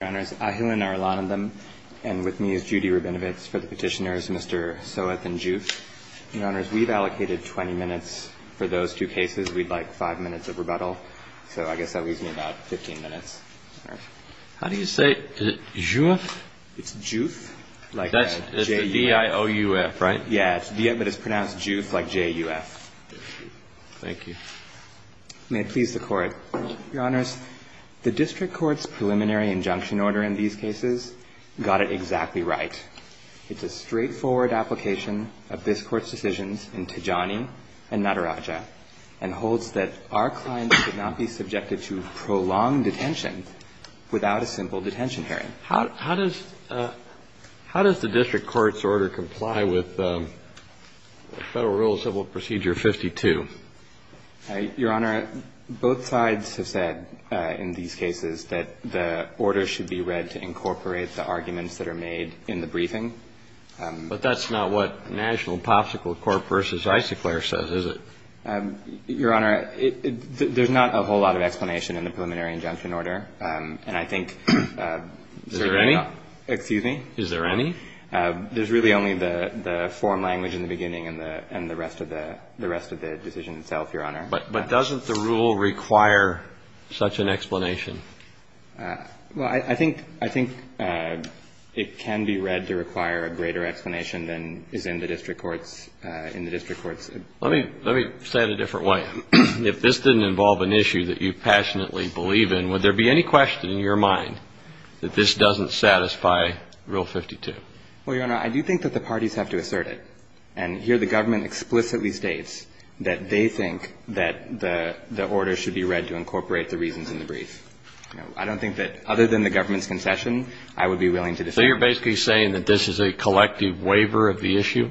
Your Honors, Ahilan and Arlondan, and with me is Judy Rabinowitz for the petitioners, Mr. Soas and Diouf. Your Honors, we've allocated 20 minutes for those two cases. We'd like 5 minutes of rebuttal. So I guess that leaves me about 15 minutes. How do you say, is it Diouf? It's Diouf. It's the D-I-O-U-F, right? Yeah, but it's pronounced Diouf like J-U-F. Thank you. May it please the Court. Your Honors, the District Court's preliminary injunction order in these cases got it exactly right. It's a straightforward application of this Court's decisions in Tijani and Nataraja, and holds that our clients should not be subjected to prolonged detention without a simple detention hearing. How does the District Court's order comply with Federal Rule of Civil Procedure 52? Your Honor, both sides have said in these cases that the order should be read to incorporate the arguments that are made in the briefing. But that's not what National Popsicle Corp. v. Icicler says, is it? Your Honor, there's not a whole lot of explanation in the preliminary injunction order, and I think... Is there any? Excuse me? Is there any? There's really only the form language in the beginning and the rest of the decision itself, Your Honor. But doesn't the rule require such an explanation? Well, I think it can be read to require a greater explanation than is in the District Court's... Let me say it a different way. If this didn't involve an issue that you passionately believe in, would there be any question in your mind that this doesn't satisfy Rule 52? Well, Your Honor, I do think that the parties have to assert it. And here the government explicitly states that they think that the order should be read to incorporate the reasons in the brief. I don't think that, other than the government's concession, I would be willing to... So you're basically saying that this is a collective waiver of the issue?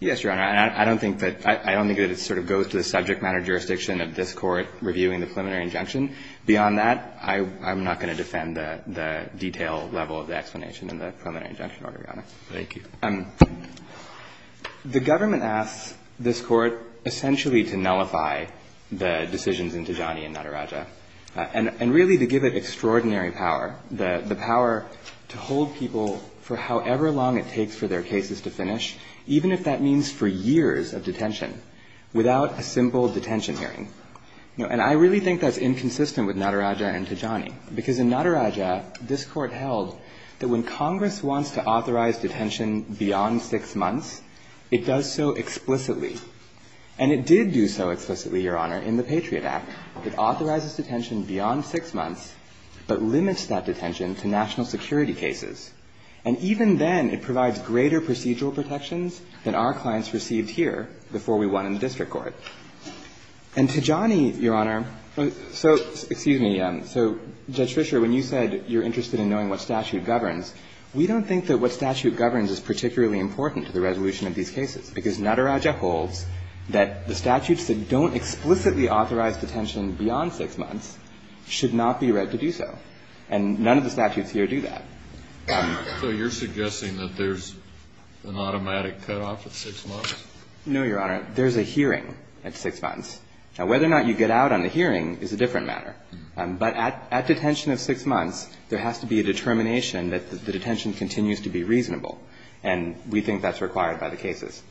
Yes, Your Honor. I don't think that it sort of goes to the subject matter jurisdiction of this Court reviewing the preliminary injunction. Beyond that, I'm not going to defend the detailed level of the explanation in the preliminary injunction order, Your Honor. Thank you. The government asks this Court essentially to nullify the decisions in Tijani and Nataraja. And really to give it extraordinary power, the power to hold people for however long it takes for their cases to finish, even if that means for years of detention, without a simple detention hearing. And I really think that's inconsistent with Nataraja and Tijani. Because in Nataraja, this Court held that when Congress wants to authorize detention beyond six months, it does so explicitly. And it did do so explicitly, Your Honor, in the Patriot Act. It authorizes detention beyond six months, but limits that detention to national security cases. And even then, it provides greater procedural protections than our clients received here before we won in the district courts. And Tijani, Your Honor, so excuse me, so Judge Fischer, when you said you're interested in knowing what statute governs, we don't think that what statute governs is particularly important to the resolution of these cases. Because Nataraja holds that the statutes that don't explicitly authorize detention beyond six months should not be read to do so. And none of the statutes here do that. So you're suggesting that there's an automatic cutoff at six months? No, Your Honor. There's a hearing at six months. Now, whether or not you get out on the hearing is a different matter. But at detention of six months, there has to be a determination that the detention continues to be reasonable. And we think that's required by the cases.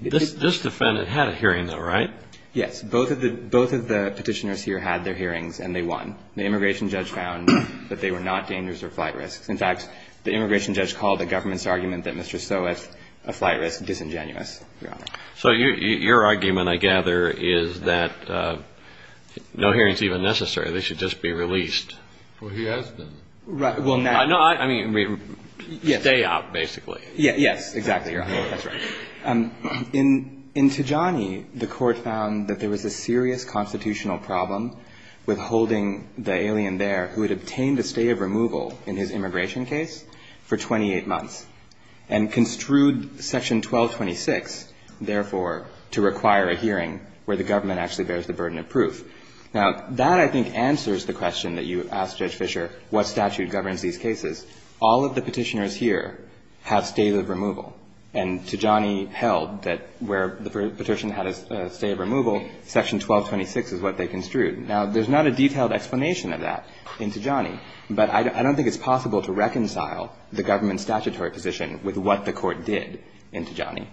This defendant had a hearing, though, right? Yes. Both of the petitioners here had their hearings, and they won. The immigration judge found that they were not dangerous or flight risk. In fact, the immigration judge called the government's argument that Mr. Stoess, a flight risk, disingenuous, Your Honor. So your argument, I gather, is that no hearing is even necessary. They should just be released. Well, he has been. Right. Well, now... No, I mean, stay out, basically. Yes, exactly, Your Honor. That's right. In Tijani, the court found that there was a serious constitutional problem with holding the alien there, who had obtained a state of removal in his immigration case, for 28 months, and construed Section 1226, therefore, to require a hearing where the government actually bears the burden of proof. Now, that, I think, answers the question that you asked, Judge Fischer, what statute governs these cases. All of the petitioners here have states of removal. And Tijani held that where the petition had a state of removal, Section 1226 is what they construed. Now, there's not a detailed explanation of that in Tijani, but I don't think it's possible to reconcile the government's statutory position with what the court did in Tijani.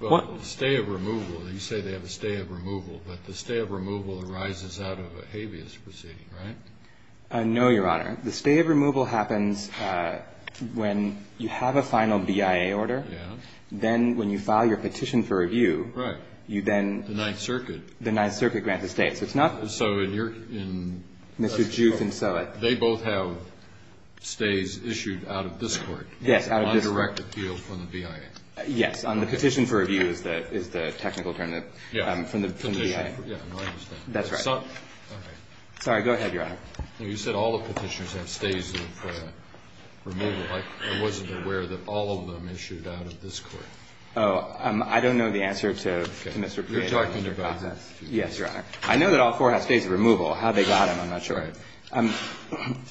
Well, the state of removal, you say they have a state of removal, but the state of removal arises out of a habeas proceeding, right? No, Your Honor. The state of removal happens when you have a final BIA order. Then, when you file your petition for review, you then... The Ninth Circuit. The Ninth Circuit grants a state. It's not... So, in your... Mr. Jukes and Soa. They both have states issued out of this court. Yes, out of this court. On a direct appeal from the BIA. Yes, on the petition for review is the technical term that... Yeah. From the BIA. That's right. Okay. Sorry, go ahead, Your Honor. You said all the petitions have states of removal. I wasn't aware that all of them issued out of this court. Oh, I don't know the answer to Mr. Prieto. You're talking about... Yes, Your Honor. I know that all four have states of removal. How they got them, I'm not sure.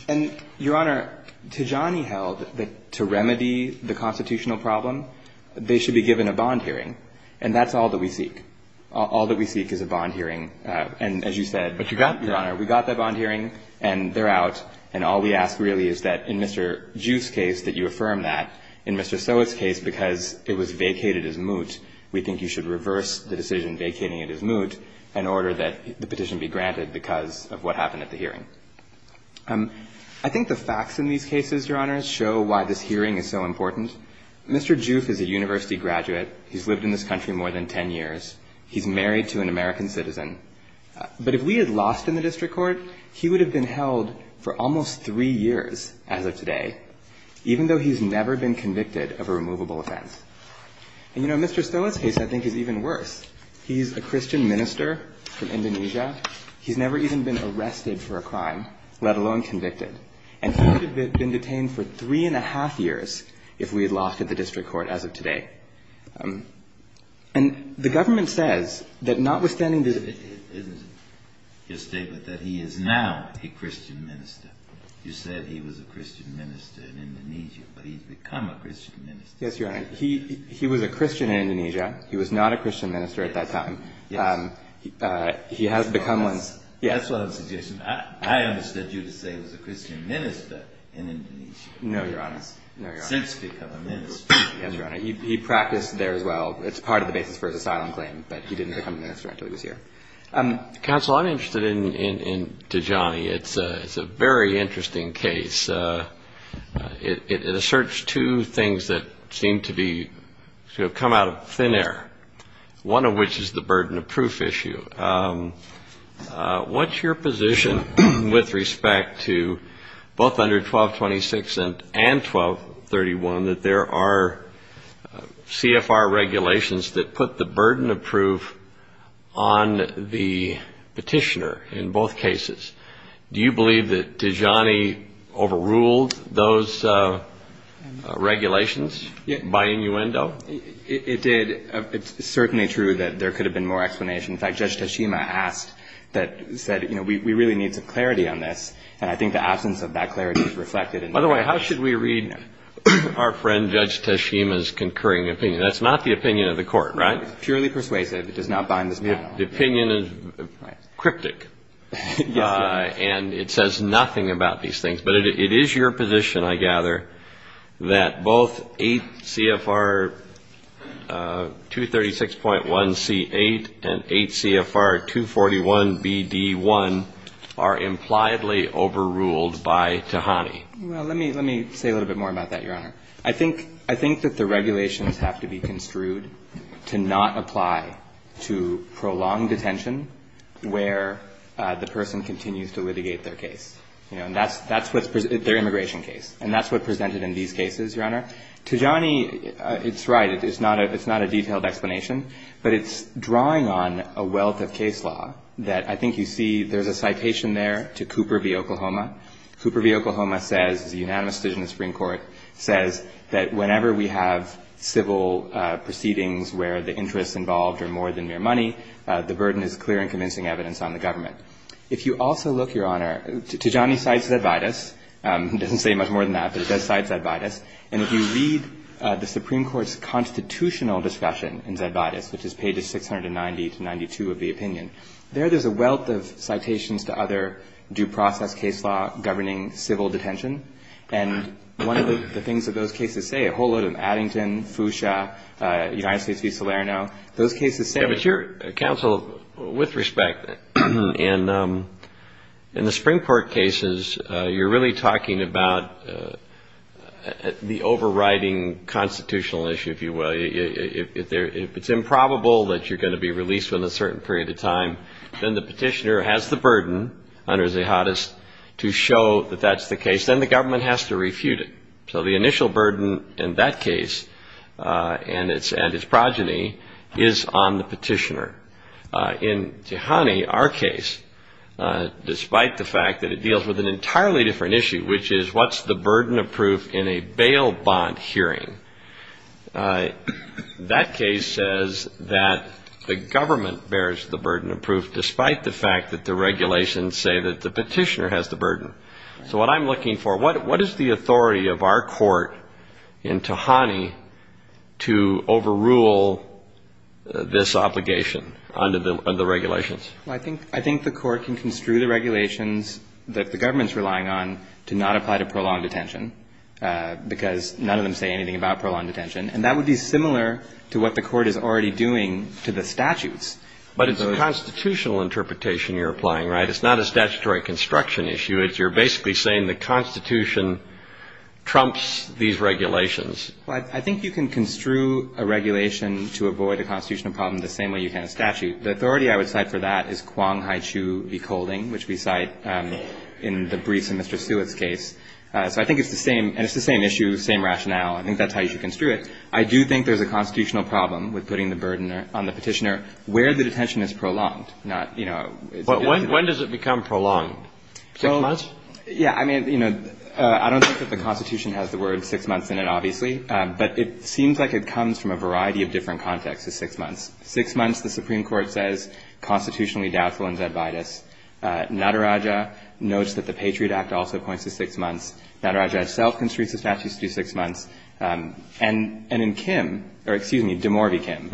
And, Your Honor, Tijani held that to remedy the constitutional problem, they should be given a bond hearing. And that's all that we seek. All that we seek is a bond hearing. And, as you said... Yes, Your Honor, we got that bond hearing, and they're out. And all we ask really is that in Mr. Juke's case, that you affirm that. In Mr. Soa's case, because it was vacated as moot, we think you should reverse the decision vacating it as moot in order that the petition be granted because of what happened at the hearing. I think the facts in these cases, Your Honor, show why this hearing is so important. Mr. Juke is a university graduate. He's lived in this country more than 10 years. He's married to an American citizen. But if we had lost him in the district court, he would have been held for almost three years as of today, even though he's never been convicted of a removable offense. And, you know, Mr. Soa's case, I think, is even worse. He's a Christian minister from Indonesia. He's never even been arrested for a crime, let alone convicted. And he would have been detained for three and a half years if we had lost him in the district court as of today. And the government says that notwithstanding the... It's a statement that he is now a Christian minister. You said he was a Christian minister in Indonesia, but he's become a Christian minister. Yes, Your Honor. He was a Christian in Indonesia. He was not a Christian minister at that time. He has become one. That's what I'm suggesting. I understood you to say he was a Christian minister in Indonesia. No, Your Honor. No, Your Honor. Since he's become a minister. He practiced there as well. It's part of the basis for his asylum claim that he didn't become a minister until he was here. Counsel, I'm interested in Tijani. It's a very interesting case. It asserts two things that seem to be... come out of thin air, one of which is the burden of proof issue. What's your position with respect to both under 1226 and 1231 that there are CFR regulations that put the burden of proof on the petitioner in both cases? Do you believe that Tijani overruled those regulations by innuendo? It did. It's certainly true that there could have been more explanation. In fact, Judge Teshima asked... said, you know, we really need the clarity on this. And I think the absence of that clarity is reflected in... By the way, how should we read our friend Judge Teshima's concurring opinion? That's not the opinion of the court, right? It's purely persuasive. The opinion is cryptic. And it says nothing about these things. But it is your position, I gather, that both 8 CFR 236.1C8 and 8 CFR 241BD1 are impliedly overruled by Tijani. Well, let me say a little bit more about that, Your Honor. I think that the regulations have to be construed to not apply to prolonged detention where the person continues to litigate their case. Their immigration case. And that's what's presented in these cases, Your Honor. Tijani, it's right. It's not a detailed explanation. But it's drawing on a wealth of case law that I think you see there's a citation there to Cooper v. Oklahoma. Cooper v. Oklahoma says, the unanimous decision of the Supreme Court, says that whenever we have civil proceedings where the interests involved are more than mere money, the burden is clear and convincing evidence on the government. If you also look, Your Honor, Tijani cites Zedvadis. He doesn't say much more than that, but he does cite Zedvadis. And if you read the Supreme Court's constitutional discussion in Zedvadis, which is pages 690 to 692 of the opinion, there is a wealth of citations to other due process case law governing civil detention. And one of the things that those cases say, a whole load of Addington, Fuchsia, United States v. Salerno, those cases say... Mr. Counsel, with respect, in the Supreme Court cases, you're really talking about the overriding constitutional issue, if you will. If it's improbable that you're going to be released within a certain period of time, then the petitioner has the burden under Zedvadis to show that that's the case, then the government has to refute it. So the initial burden in that case and its progeny is on the petitioner. In Tijani, our case, despite the fact that it deals with an entirely different issue, which is what's the burden of proof in a bail bond hearing, that case says that the government bears the burden of proof despite the fact that the regulations say that the petitioner has the burden. So what I'm looking for, what is the authority of our court in Tijani to overrule this obligation under the regulations? I think the court can construe the regulations that the government's relying on to not apply to prolonged detention because none of them say anything about prolonged detention, and that would be similar to what the court is already doing to the statutes. But it's a constitutional interpretation you're applying, right? It's not a statutory construction issue. You're basically saying the constitution trumps these regulations. I think you can construe a regulation to avoid a constitutional problem the same way you can a statute. The authority I would cite for that is Kuang Haichu v. Kolding, which we cite in the brief in Mr. Stewart's case. So I think it's the same issue, same rationale. I think that's how the constitutional problem with putting the burden on the petitioner where the detention is prolonged. When does it become prolonged? Six months? Yeah, I mean, you know, I don't think that the constitution has the word six months in it, obviously, but it seems like it comes from a variety of different contexts of six months. Six months, the Supreme Court says, constitutionally doubtful and dead by this. Nataraja notes that the Patriot Act also points to six months. Nataraja himself construes the statute to do six months. And in Kim, or excuse me, Damore v. Kim,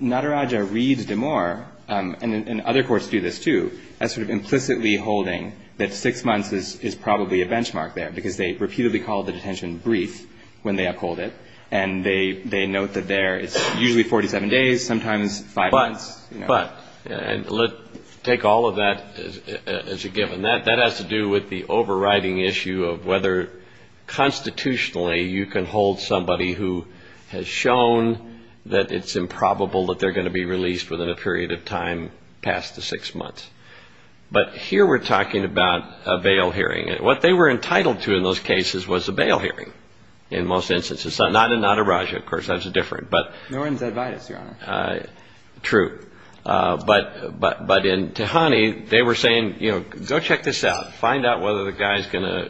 Nataraja reads Damore and other courts do this too as sort of implicitly holding that six months is probably a benchmark there because they repeatedly call the detention brief when they uphold it and they note that there it's usually 47 days, sometimes five months. But, but, take all of that as a given. That has to do with the overriding issue of whether constitutionally you can hold somebody who has shown that it's improbable that they're going to be released within a period of time past the six months. But here we're talking about a bail hearing. What they were entitled to in those cases was a bail hearing in most instances. So not in Nataraja, of course, that's different, but... True. But in Tehani, they were saying, you know, go check this out. Find out whether the guy's a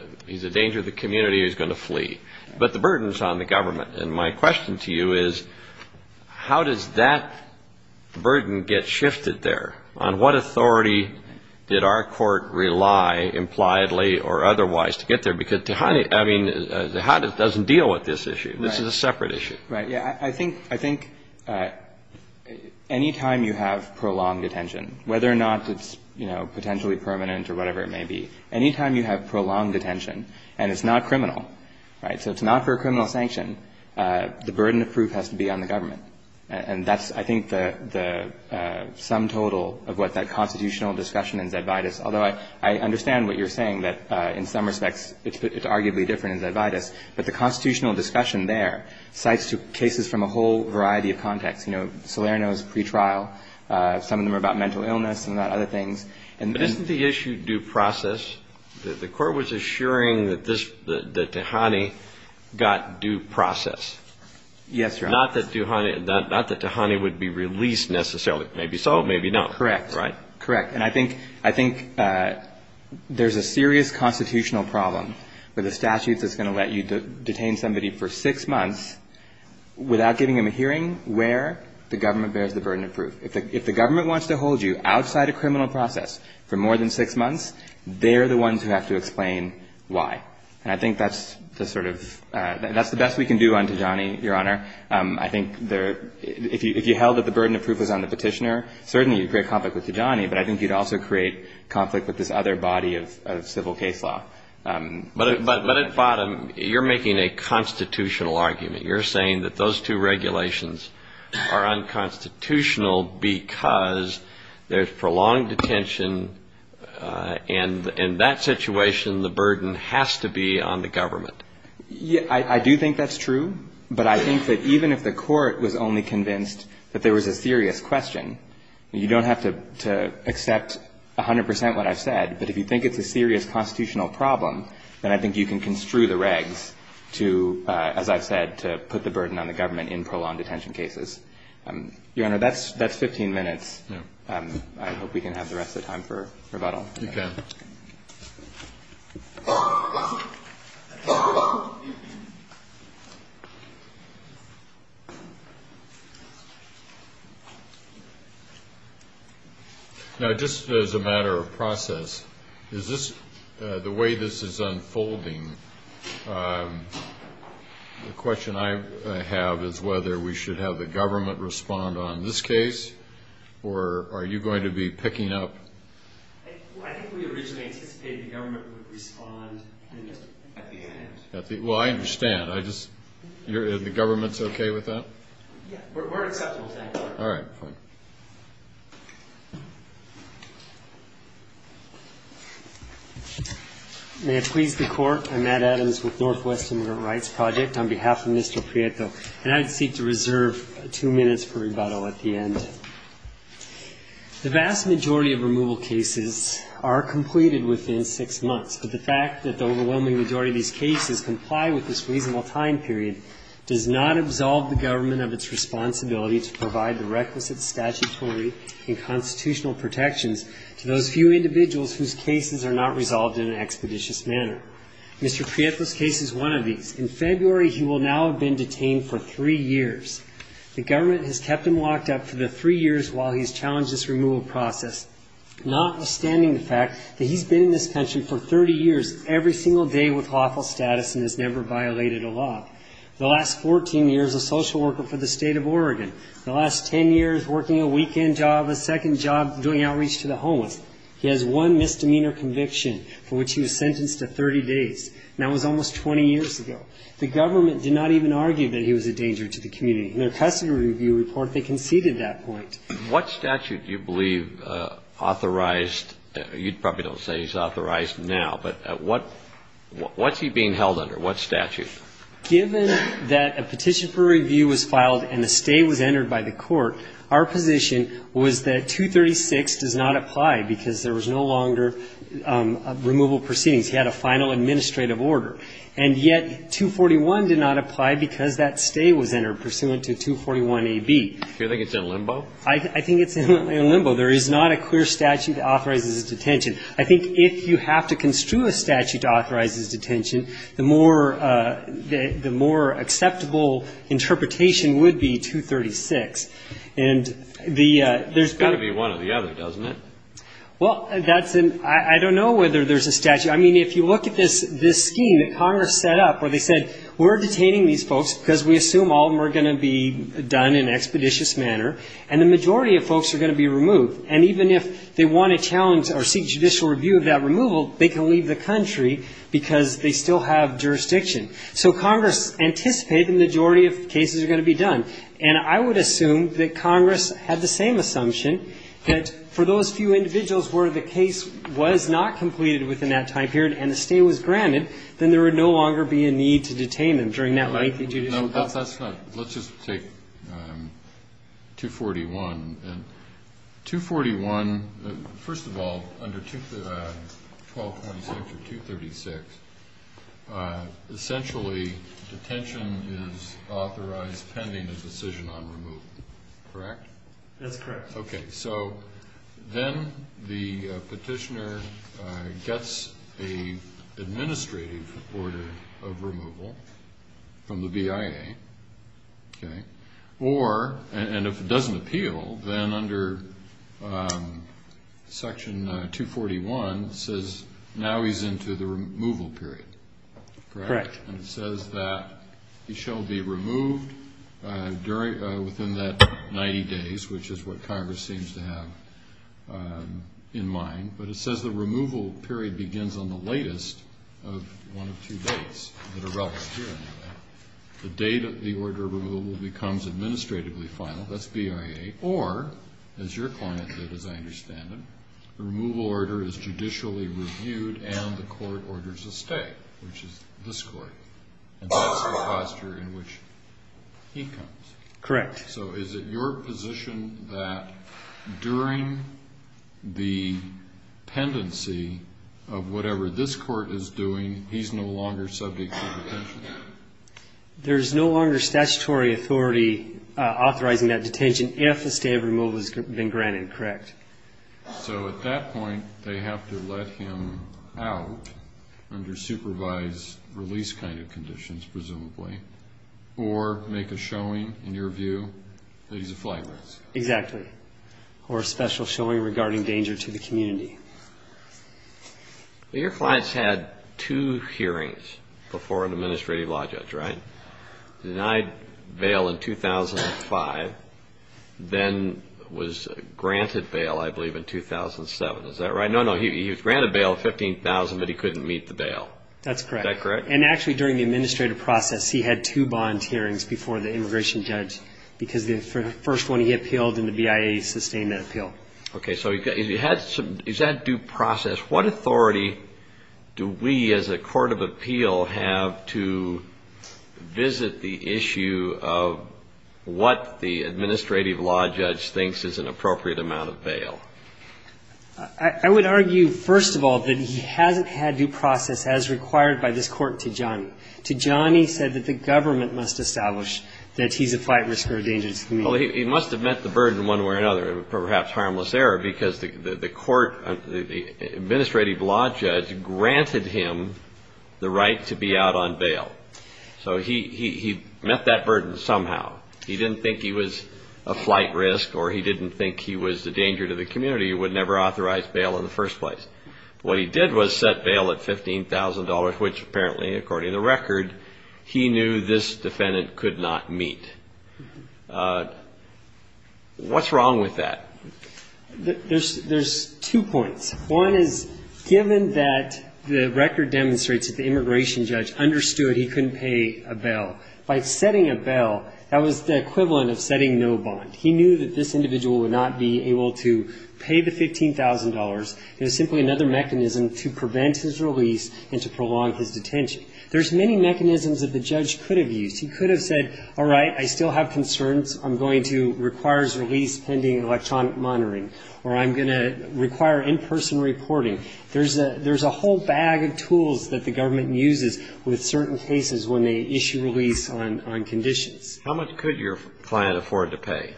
danger to the community, he's going to flee. But the burden's on the government. And my question to you is how does that burden get shifted there? On what authority did our court rely, impliedly or otherwise, to get there? Because Tehani, I mean, Tehani doesn't deal with this issue. This is a separate issue. I think any time you have prolonged detention, whether or not it's potentially permanent or whatever it may be, any time you have prolonged detention and it's not criminal, so it's not for a criminal sanction, the burden of proof has to be on the government. And that's, I think, the sum total of what that constitutional discussion in Zedidus, although I understand what you're saying, that in some respects it's arguably different in Zedidus, but the constitutional discussion there cites cases from a whole variety of contexts. You know, Salerno's pretrial, some of them are about mental illness and about other things. But isn't the issue due process? The court was assuring that Tehani got due process. Yes, Your Honor. Not that Tehani would be released necessarily. Maybe so, maybe not. Correct. Correct. And I think there's a serious constitutional problem with a statute that's going to let you detain somebody for six months without giving them a hearing where the government bears the burden of proof. If the government wants to give them due process for more than six months, they're the ones who have to explain why. And I think that's the best we can do on Tehani, Your Honor. I think if you held that the burden of proof was on the petitioner, certainly you'd create conflict with Tehani, but I think you'd also create conflict with this other body of civil case law. But at bottom, you're making a constitutional argument. You're saying that those two regulations are unconstitutional because there's prolonged detention and in that situation, the burden has to be on the government. I do think that's true, but I think that even if the court was only convinced that there was a serious question, you don't have to accept 100 percent of what I said, but if you think it's a serious constitutional problem, then I think you can construe the regs to, as I've said, put the burden on the government in prolonged detention cases. Your Honor, that's 15 minutes. I hope we can have the rest of the time for rebuttal. Now, just as a matter of process, is this, the way this is unfolding, the question I have is whether we should have the government respond on this case, or are you going to be picking up? I think we originally anticipated the government would respond at the end. Well, I understand. The government's okay with that? We're comfortable with that. May it please the Court, I'm Matt Adams with Northwest Immigrant Rights Project. On behalf of Mr. Prieto, and I seek to reserve two minutes for rebuttal at the end. The vast majority of removal cases are completed within six months, but the fact that the overwhelming majority of these cases comply with this reasonable time period does not absolve the government of its responsibility to provide the requisite statutory and constitutional protections to those few individuals whose cases are not resolved in an expeditious manner. Mr. Prieto's in February, he will now have been detained for three years. The government has kept him locked up for the three years while he's challenged this removal process, notwithstanding the fact that he's been in this pension for 30 years every single day with lawful status and has never violated a law. The last 14 years, a social worker for the state of Oregon. The last 10 years, working a weekend job, a second job doing outreach to the homeless. He has one misdemeanor conviction for which he was sentenced to 30 days, and that was almost 20 years ago. The government did not even argue that he was a danger to the community. In their custody review report, they conceded that point. What statute do you believe authorized, you probably don't say he's authorized now, but what's he being held under? What statute? Given that a petition for review was filed and a stay was entered by the court, our position was that 236 does not apply because there was no longer a removal proceeding. He had a final administrative order. And yet, 241 did not apply because that stay was entered pursuant to 241 AB. Do you think it's in limbo? I think it's in limbo. There is not a clear statute that authorizes his detention. I think if you have to construe a statute to authorize his detention, the more acceptable interpretation would be 236. There's got to be one or the other, doesn't it? I don't know whether there's a statute. I mean, if you look at this scheme that Congress set up where they said, we're detaining these folks because we assume all of them are going to be done in an expeditious manner, and the majority of folks are going to be removed. And even if they want to challenge or seek judicial review of that removal, they can leave the country because they still have jurisdiction. So Congress anticipated the majority of cases are going to be done. And I would assume that Congress had the same assumption that for those few individuals where the case was not completed within that time period and a stay was granted, then there would no longer be a need to detain them during that length of judicial review. Let's just take 241. 241, first of all, under 12.6 or 236, essentially, detention is authorized pending the decision on removal. Correct? That's correct. Okay. So then the petitioner gets an administrative order of removal from the BIA. Okay. Or, and if it doesn't appeal, then under Section 241 says now he's into the removal period. Correct. And it says that he shall be removed during, within that 90 days, which is what Congress seems to have in mind. But it says the removal period begins on the latest of one of two dates. The date of the order of removal becomes administratively final. That's BIA. Or, as your point as I understand it, removal order is judicially reviewed and the court orders a stay, which is this court. That's the posture in which he comes. Correct. So is it your position that during the pendency of whatever this court is doing, he's no longer subject to detention? There's no longer statutory authority authorizing that detention if a stay of removal has been granted. Correct. So at that point, they have to let him out under supervised release kind of conditions, presumably. Or make a showing, in your view, that he's a flagrant. Exactly. Or a special showing regarding danger to the community. Your client's had two hearings before an administrative law judge, right? Denied bail in 2005, then was granted bail, I believe, in 2007. Is that right? No, no. He was granted bail of $15,000 but he couldn't meet the bail. That's correct. Is that correct? And actually, during the administrative process, he had two bond hearings before the immigration judge because the first one he appealed, and the BIA sustained that appeal. Okay, so is that due process? What authority do we, as a court of appeal, have to visit the issue of what the administrative law judge thinks is an appropriate amount of bail? I would argue, first of all, that he hasn't had due process as required by this court to Johnny. To Johnny said that the government must establish that he's a flight risker of danger to the community. Well, he must have met the burden one way or another, perhaps harmless error, because the court administrative law judge granted him the right to be out on bail. So he met that burden somehow. He didn't think he was a flight risk, or he didn't think he was a danger to the community. He would never authorize bail in the first place. What he did was set bail at $15,000, which apparently, according to the record, he knew this defendant could not meet. What's wrong with that? There's two points. One is, given that the record demonstrates that the immigration judge understood he couldn't pay a bail, by setting a bail, that was the equivalent of setting no bond. He knew that this individual would not be able to pay the $15,000. It was simply another mechanism to prevent his release and to prolong his detention. There's many mechanisms that the judge could have used. He could have said, all right, I still have concerns. I'm going to require his release pending electronic monitoring, or I'm going to require in-person reporting. There's a whole bag of tools that the government uses with certain cases when they issue release on conditions. How much could your client afford to pay?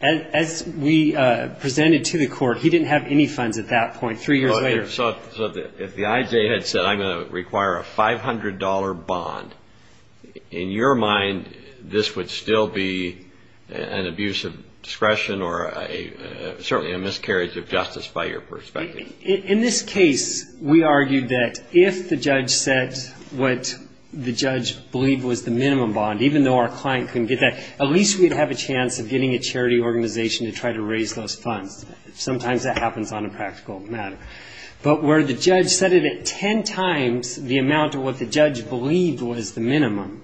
As we presented to the court, he didn't have any funds at that point, three years later. If the IJ had said, I'm going to require a $500 bond, in your mind, this would still be an abuse of discretion or certainly a miscarriage of justice by your perspective? In this case, we argued that if the judge said what the judge believed was the minimum bond, even though our client couldn't get that, at least we'd have a chance of getting a charity organization to try to raise those funds. Sometimes that happens on a practical matter. But where the judge said it ten times the amount of what the judge believed was the minimum,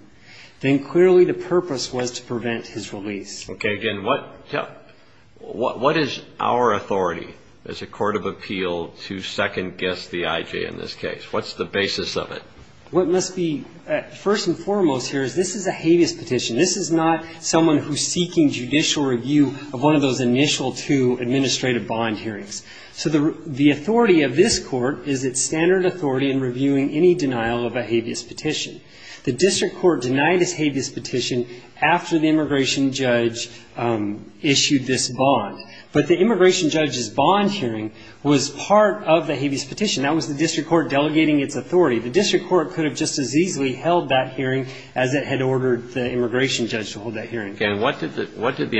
then clearly the purpose was to prevent his release. Okay. Again, what is our authority as a court of appeal to second-guess the IJ in this case? What's the basis of it? What must be first and foremost here is this is a habeas petition. This is not someone who's seeking judicial review of one of those initial two administrative bond hearings. So the authority of this court is its standard authority in reviewing any denial of a habeas petition. The district court denied a habeas petition after the immigration judge issued this bond. But the immigration judge's bond hearing was part of the habeas petition. That was the reason that this court could have just as easily held that hearing as it had ordered the immigration judge to hold that hearing. And what did the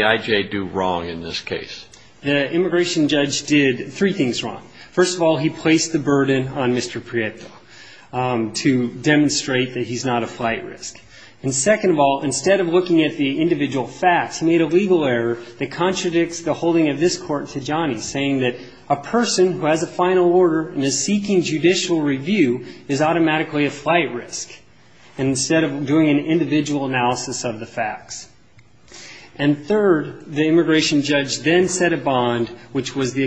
IJ do wrong in this case? The immigration judge did three things wrong. First of all, he placed the burden on Mr. Prieto to demonstrate that he's not a flight risk. And second of all, instead of looking at the individual facts, he made a legal error that contradicts the holding of this court to Johnny, saying that a person who has a final order and is seeking judicial review is automatically a flight risk. And instead of doing an individual analysis of the facts. And third, the immigration judge then set a bond, which was the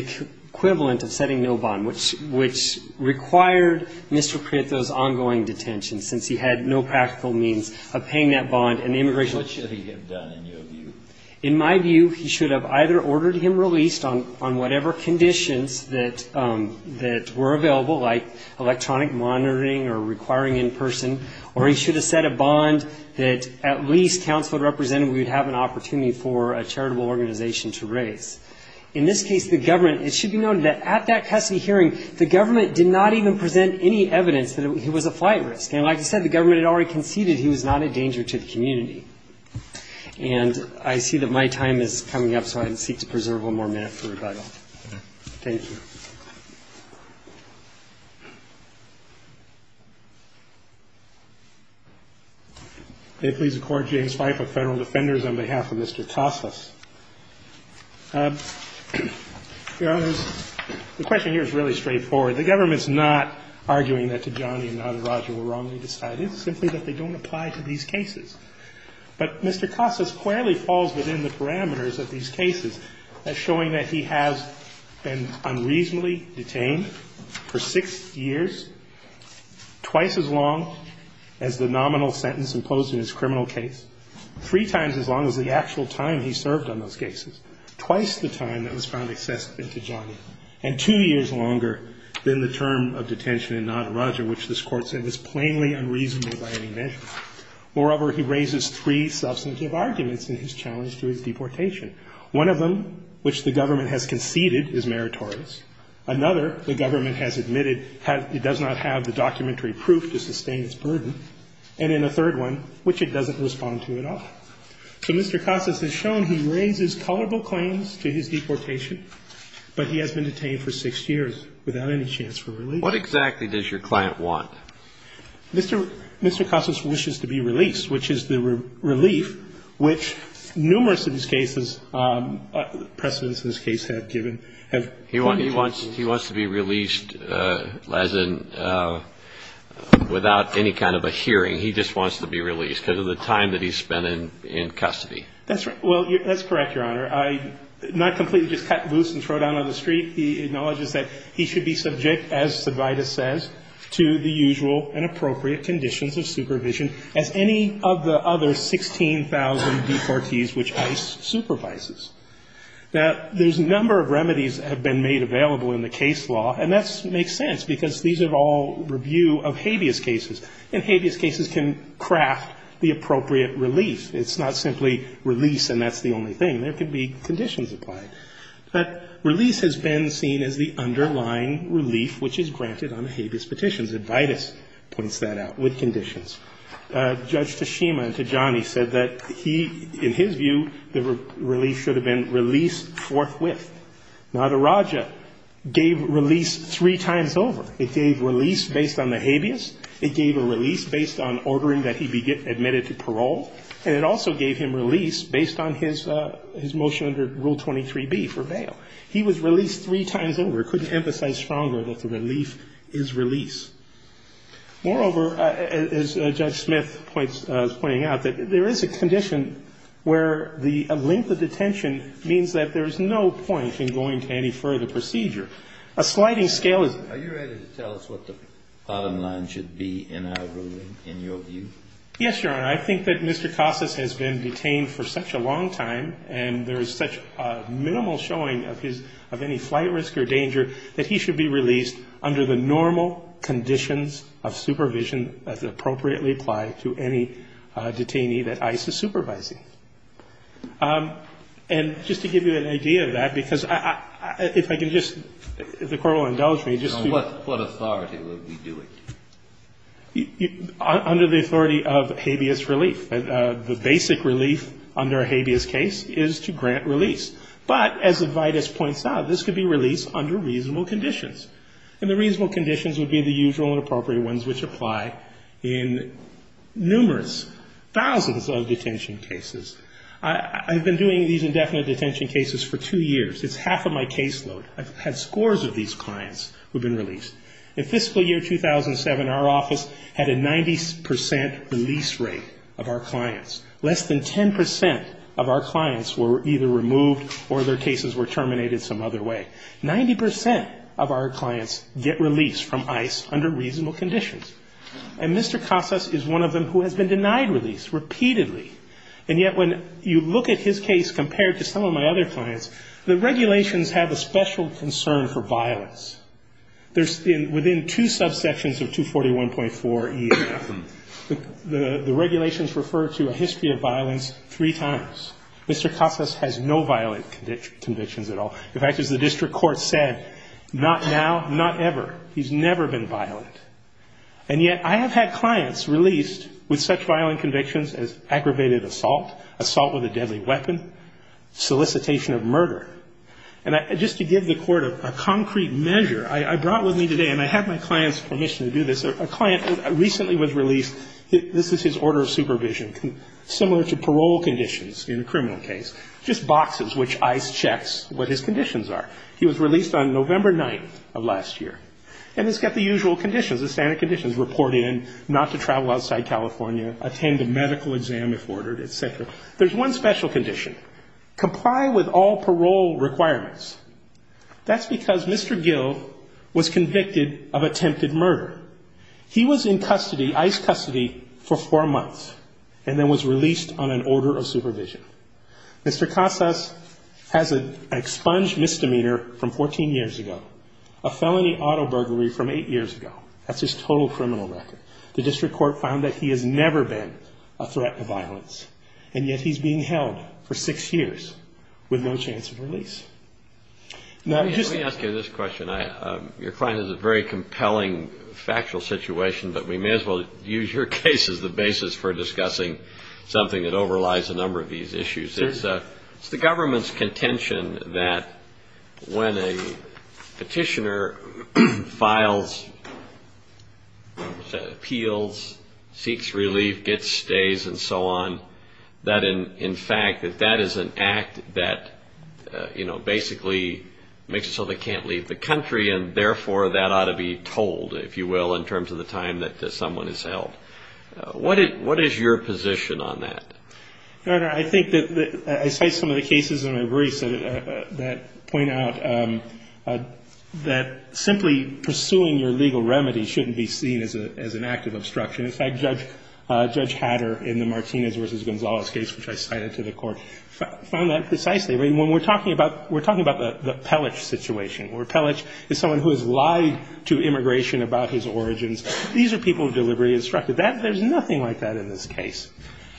equivalent of setting no bond, which required Mr. Prieto's ongoing detention since he had no practical means of paying that bond and the immigration judge didn't. In my view, he should have either ordered him released on whatever conditions that were available, like electronic monitoring or requiring in-person, or he should have set a bond that at least counsel represented we'd have an opportunity for a charitable organization to raise. In this case, the government it should be noted that at that custody hearing, the government did not even present any evidence that he was a flight risk. And like I said, the government had already conceded he was not a danger to the community. And I see that my time is coming up, so I seek to preserve one more minute for rebuttal. Thank you. May it please the Court, James Fyffe of Federal Defenders on behalf of Mr. Casas. Your Honor, the question here is really straightforward. The government's not arguing that Tijani and Naderaj were wrongly decided, simply that they don't apply to these cases. But Mr. Casas clearly falls within the parameters of these cases, as showing that he has been unreasonably detained for six years, twice as long as the nominal sentence imposed in his criminal case, three times as long as the actual time he served on those cases, twice the time that was found excessive in Tijani, and two years longer than the term of detention in Naderaj, which this Court said was plainly unreasonable by any measure. Moreover, he raises three substantive arguments in his challenge to his deportation. One of them, which the government has conceded is meritorious. Another, the government has admitted he does not have the documentary proof to sustain his burden. And in the third one, which it doesn't respond to at all. So Mr. Casas has shown he raises tolerable claims to his deportation, but he has been detained for six years without any chance for release. What exactly does your client want? Mr. Casas wishes to be released, which is the relief which numerous of these cases precedents in this case have given. He wants to be released as in without any kind of a hearing. He just wants to be released because of the time that he's spent in custody. That's correct, Your Honor. Not completely just cut loose and throw down on the street. He acknowledges that he should be subject, as the Vida says, to the usual and appropriate conditions of supervision as any of the other 16,000 deportees which ICE supervises. There's a number of remedies that have been made available in the case law, and that makes sense because these are all review of habeas cases. And habeas cases can craft the appropriate release. It's not simply release and that's the only thing. There could be conditions applied. But release has been seen as the underlying relief which is granted on the habeas petitions. Vida puts that out with conditions. Judge Tashima to Johnny said that he, in his view, the relief should have been released forthwith. Madaraja gave release three times over. It gave release based on the habeas. It gave a release based on ordering that he be admitted to parole. And it also gave him release based on his motion under Rule 23B for bail. He was released three times over. He couldn't emphasize stronger that the relief is release. Moreover, as Judge Smith is pointing out, that there is a condition where the length of detention means that there is no point in going to any further procedure. A sliding scale of... Are you ready to tell us what the bottom line should be in our ruling, in your view? Yes, Your Honor. I think that Mr. Kossuth has been detained for such a long time and there is such a minimal showing of any flight risk or danger that he should be released under the normal conditions of supervision as appropriately applied to any detainee that ICE is supervising. And just to give you an idea of that, because if I can just... The Corporal embellished me. So what authority would we be doing? Under the authority of habeas relief. The basic relief under a habeas case is to case. And as Judge Smith points out, this could be released under reasonable conditions. And the reasonable conditions would be the usual and appropriate ones which apply in numerous thousands of detention cases. I've been doing these indefinite detention cases for two years. It's half of my caseload. I've had scores of these clients who have been released. In fiscal year 2007, our office had a 90% release rate of our clients. Less than 10% of our clients were either removed or their cases were terminated some other way. 90% of our clients get released from ICE under reasonable conditions. And Mr. Koffes is one of them who has been denied release repeatedly. And yet when you look at his case compared to some of my other clients, the regulations have a special concern for violence. Within two subsections of 241.4E, the regulations refer to a history of violence three times. Mr. Koffes has no violent convictions at all. In fact, as the district court said, not now, not ever. He's never been violent. And yet I have had clients released with such violent convictions as aggravated assault, assault with a deadly weapon, solicitation of murder. And just to give the court a concrete measure, I brought my client's commission to do this. A client recently was released. This is his order of supervision. Similar to parole conditions in a criminal case. Just boxes which ICE checks what his conditions are. He was released on November 9th of last year. And he's got the usual conditions, the standard conditions, report in, not to travel outside California, attend a medical exam if ordered, etc. There's one special condition. Comply with all parole requirements. That's because Mr. Gil was convicted of attempted murder. He was in ICE custody for four months and then was released on an order of supervision. Mr. Koffes has an expunged misdemeanor from 14 years ago, a felony auto burglary from eight years ago. That's his total criminal record. The district court found that he has never been a threat to violence. And yet he's being held for six years with no chance of release. Let me ask you this question. Your client is a very compelling factual situation, but we may as well use your case as the basis for discussing something that overlies a number of these issues. It's the government's contention that when a petitioner files appeals, seeks relief, gets stays, and so on, that in fact that that is an act that basically makes it so they can't leave the country, and therefore that ought to be told, if you will, in terms of the time that someone is held. What is your position on that? Your Honor, I think that I cite some of the cases in my briefs that point out that simply pursuing your legal remedy shouldn't be seen as an act of obstruction. In fact, Judge Hatter in the Martinez v. Gonzales case, which I cited to the Court, found that precisely. We're talking about the Pellich situation, where Pellich is someone who has lied to immigration about his origins. These are people deliberately obstructed. There's nothing like that in this case.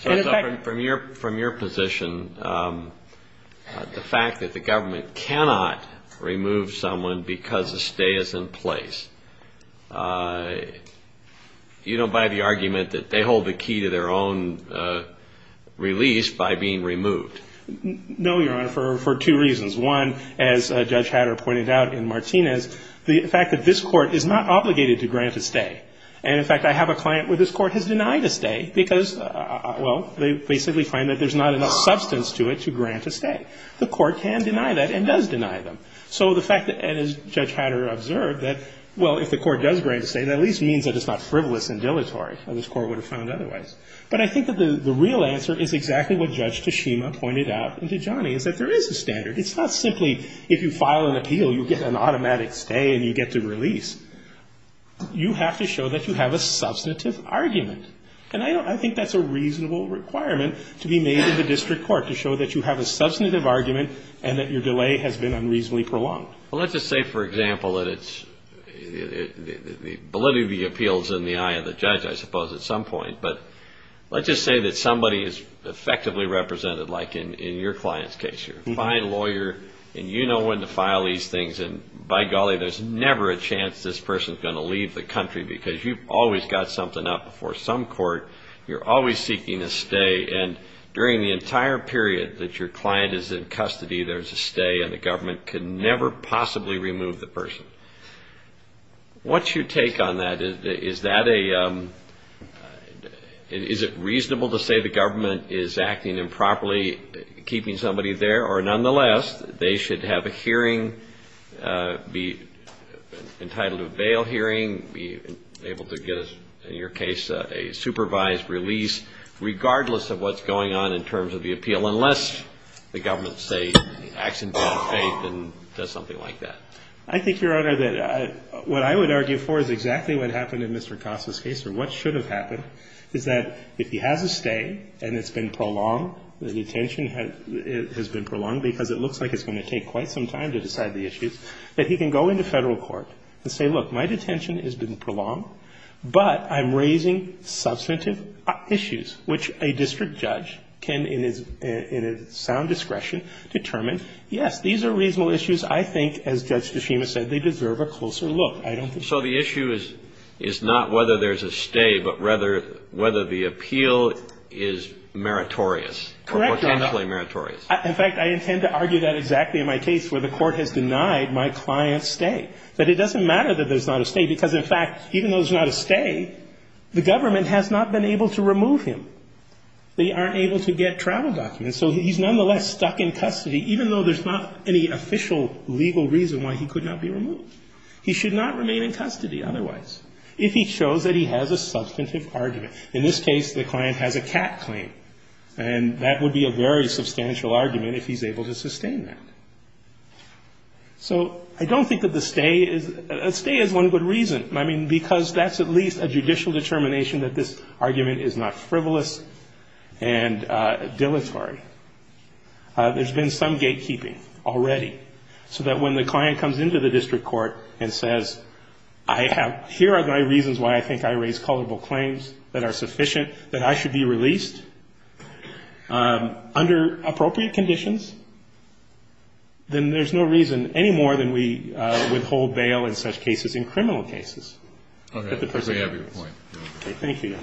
From your position, the fact that the government cannot remove someone because the stay is in place, you don't buy the argument that they hold the key to their own release by being removed. No, Your Honor, for two reasons. One, as Judge Hatter pointed out in Martinez, the fact that this Court is not obligated to grant a stay. And in fact, I have a client where this Court has denied a stay because well, they simply find that there's not enough substance to it to grant a stay. The Court can deny that and does deny them. So the fact that, as Judge Hatter observed, that well, if the Court does grant a stay, that at least means that it's not frivolous and dilatory. This Court would have found otherwise. But I think that the real answer is exactly what Judge Tashima pointed out, and to Johnny, is that there is a standard. It's not simply, if you file an appeal, you get an automatic stay and you get to release. You have to show that you have a substantive argument. And I think that's a reasonable requirement to be made in the District Court, to show that you have a substantive argument and that your delay has for example, that it's Bolivia v. Appeals in the eye of the judge, I suppose, at some point. But let's just say that somebody is effectively represented like in your client's case. You're a fine lawyer and you know when to file these things and by golly, there's never a chance this person's going to leave the country because you've always got something up before some court. You're always seeking a stay and during the entire period that your client is in custody, there's a stay and the government can never possibly remove the person. What's your take on that? Is that a is it reasonable to say the government is acting improperly, keeping somebody there or nonetheless, they should have a hearing, be entitled to a bail hearing, be able to get in your case, a supervised release, regardless of what's going on in terms of the appeal, unless the government, say, acts in good faith and does something like that? I think, Your Honor, what I would argue for is exactly what happened in Mr. Costa's case and what should have happened is that if you have a stay and it's been prolonged, the detention has been prolonged because it looks like it's going to take quite some time to decide the issue, that he can go into federal court and say, look, my detention has been prolonged, but I'm raising substantive issues, which a district judge can, in his sound discretion, determine whether there's a stay. Yes, these are reasonable issues. I think, as Judge Kishima said, they deserve a closer look. So the issue is not whether there's a stay, but rather whether the appeal is meritorious. Correct, Your Honor. In fact, I intend to argue that exactly in my case where the court has denied my client's stay, but it doesn't matter that there's not a stay because, in fact, even though there's not a stay, the government has not been able to remove him. They aren't able to get travel documents, so he's nonetheless stuck in custody, even though there's not any official legal reason why he could not be removed. He should not remain in custody otherwise if he shows that he has a substantive argument. In this case, the client has a tax claim, and that would be a very substantial argument if he's able to sustain that. So I don't think that the stay is one good reason. I mean, because that's at least a judicial determination that this argument is not frivolous and dilatory. There's been some gatekeeping already so that when the client comes into the district court and says, here are the reasons why I think I raised culpable claims that are sufficient that I should be released under appropriate conditions, then there's no reason any more than we withhold bail in such cases in criminal cases. Okay. Thank you.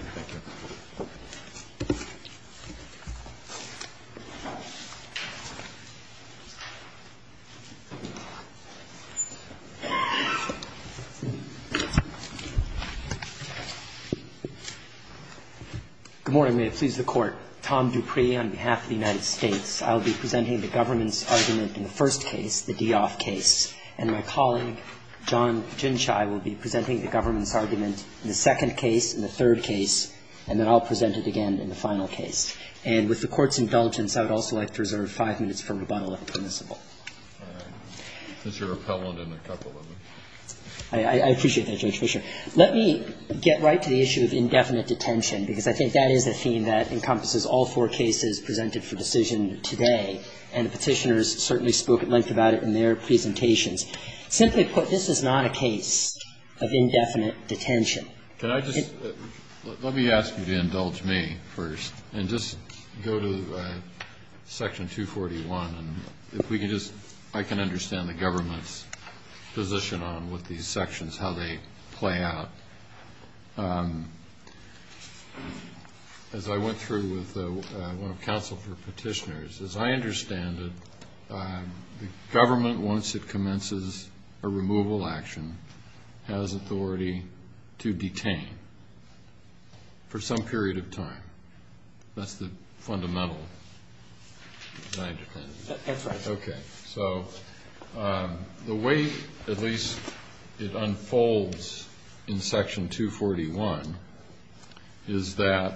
Good morning. May it please the Court. Tom Dupree on behalf of the United States. I'll be presenting the government's argument in the first case, the Dioff case. And my colleague, John Gymchai, will be presenting the government's argument in the second case and the third case, and then I'll present it again in the final case. And with the Court's indulgence, I would also like to reserve five minutes for rebuttal if permissible. I appreciate that, Judge Fischer. Let me get right to the issue of indefinite detention, because I think that is a theme that encompasses all four cases presented for decision today, and the petitioners certainly spoke at length about it in their presentations. Simply put, this is not a case of indefinite detention. Let me ask you to indulge me first, and just go to Section 241. If we can just understand the government's position on what these sections, how they play out. As I went through with one of the counsel for petitioners, as I understand it, the government, once it commences a removal action, has authority to detain for some period of time. That's the fundamental design. Okay. The way, at least, it unfolds in Section 241 is that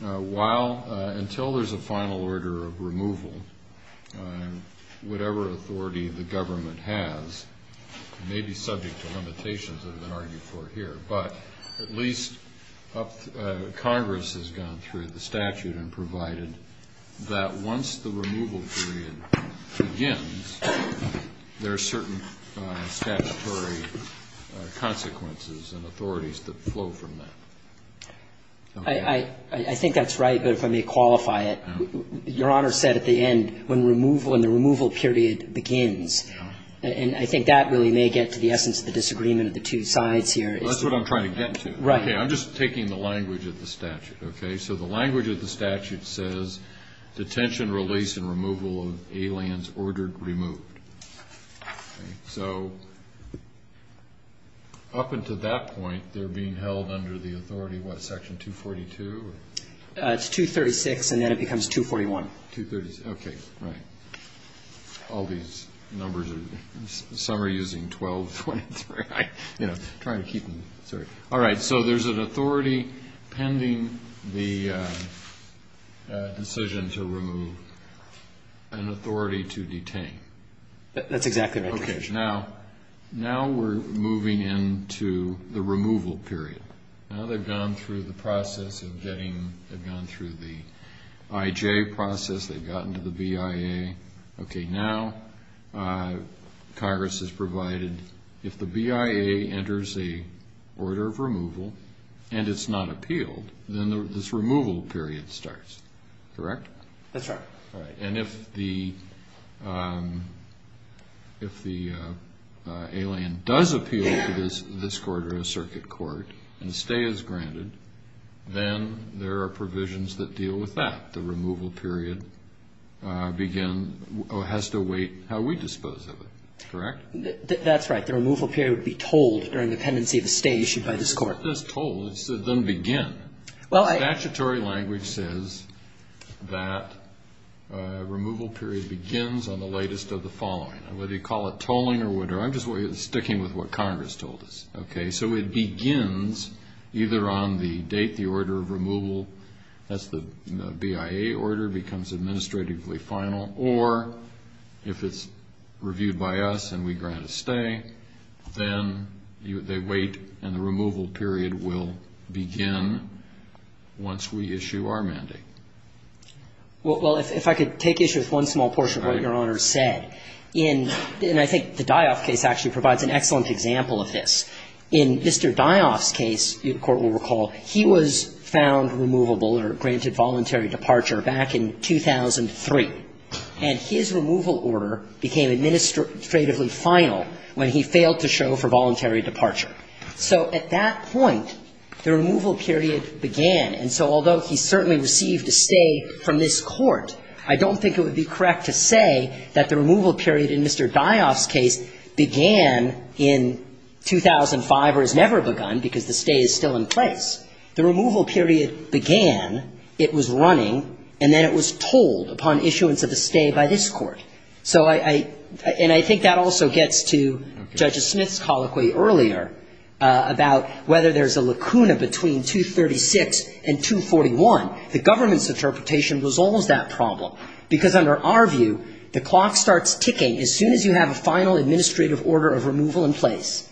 while, until there's a final order of removal, whatever authority the government has, may be subject to limitations, as I'm arguing for here, but at least Congress has gone through the statute and provided that once the removal period begins, there are certain statutory consequences and authorities that flow from that. I think that's right, but if I go back to what Connor said at the end, when the removal period begins, and I think that really may get to the essence of the disagreement of the two sides here. That's what I'm trying to get to. I'm just taking the language of the statute. The language of the statute says detention, release, and removal of aliens ordered removed. So, up until that point, they're being held under the authority of what, Section 242? It's 236, and then it becomes 241. Okay, right. All these numbers, some are using 1223. All right, so there's an authority pending the decision to remove, an authority to detain. That's exactly right. Now we're moving into the removal period. Now they've gone through the process of getting, they've gone through the IJ process, they've gotten to the BIA. Okay, now Congress has provided, if the BIA enters a order of removal, and it's not appealed, then this removal period starts. Correct? That's right. And if the, if the alien does appeal to this court, or a circuit court, and a stay is granted, then there are provisions that deal with that. The removal period begins, or has to await how we dispose of it. Correct? That's right. The removal period would be tolled during the tendency to stay issued by this court. It's just tolled, it doesn't begin. that removal period begins on the latest of the following. Whether you call it tolling or whatever, I'm just sticking with what Congress told us. Okay, so it begins either on the date the order of removal, that's the BIA order, becomes administratively final, or if it's reviewed by us and we grant a stay, then they wait and the removal period will begin once we issue our mandate. Well, if I could take issue with one small portion of what your Honor said, and I think the Dioff case actually provides an excellent example of this. In Mr. Dioff's case, the Court will recall, he was found removable or granted voluntary departure back in 2003, and his removal order became administratively final when he failed to show for voluntary departure. So at that point, the removal period began, and so although he certainly received a stay from this court, I don't think it would be correct to say that the removal period in Mr. Dioff's case began in 2005 or has never begun because the stay is still in place. The removal period began, it was running, and then it was pulled upon issuance of a stay by this court. So I, and I think that also gets to Judge Smith's colloquy earlier about whether there's a lacuna between 236 and 241. The government's interpretation resolves that problem because under our view, the clock starts ticking as soon as you have a final administrative order of removal in place.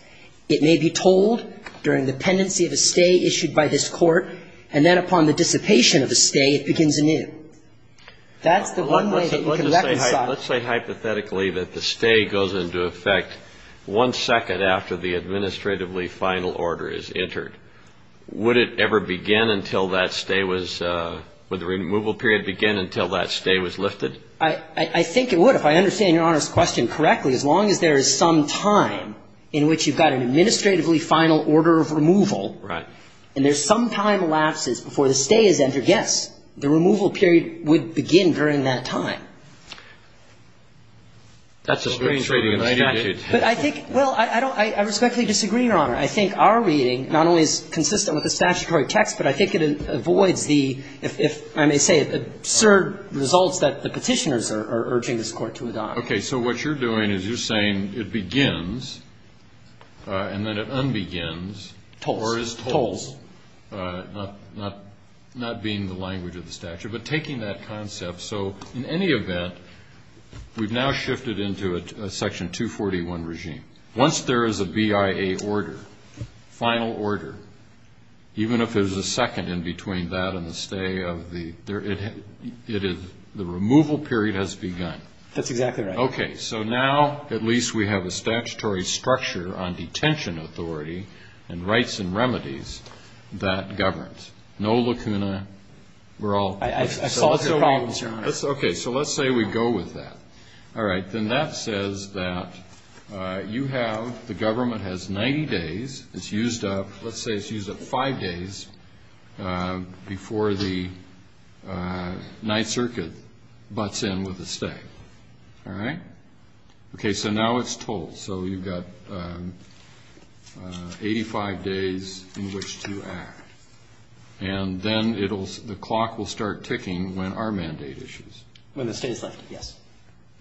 It may be told during the pendency of a stay issued by this court, and then upon the dissipation of a stay, it begins anew. That's the one way that you can recognize... Let's say hypothetically that the stay goes into effect one second after the administratively final order is entered. Would it ever begin until that stay was, would the removal period begin until that stay was lifted? I think it would, if I understand Your Honor's question correctly. As long as there is some time in which you've got an administratively final order of removal, and there's some time elapsed before the stay is entered, yes, the removal period would begin during that time. That's a strange reading of the statute. But I think, well, I respectfully disagree, Your Honor. I think our reading, not only is consistent with the statutory text, but I think it avoids the, if I may say it, absurd results that the petitioners are urging this court to adopt. Okay, so what you're doing is you're saying it begins and then it unbegins or is told, not being the language of the statute, but taking that concept, so in any event, we've now shifted into a Section 241 regime. Once there is a BIA order, final order, even if there's a second in between that and the stay, the removal period has begun. That's exactly right. Okay, so now, at least we have a statutory structure on detention authority and rights and remedies that governs. No lacuna, we're all clear. Okay, so let's say we go with that. All right, then that says that you have, the government has 90 days. It's used up, let's say it's used up five days before the Ninth Circuit butts in with the stay. All right? Okay, so now it's told. So you've got 85 days in which to act. And then it'll, the clock will start ticking when our mandate issues. When the stay is final, yes.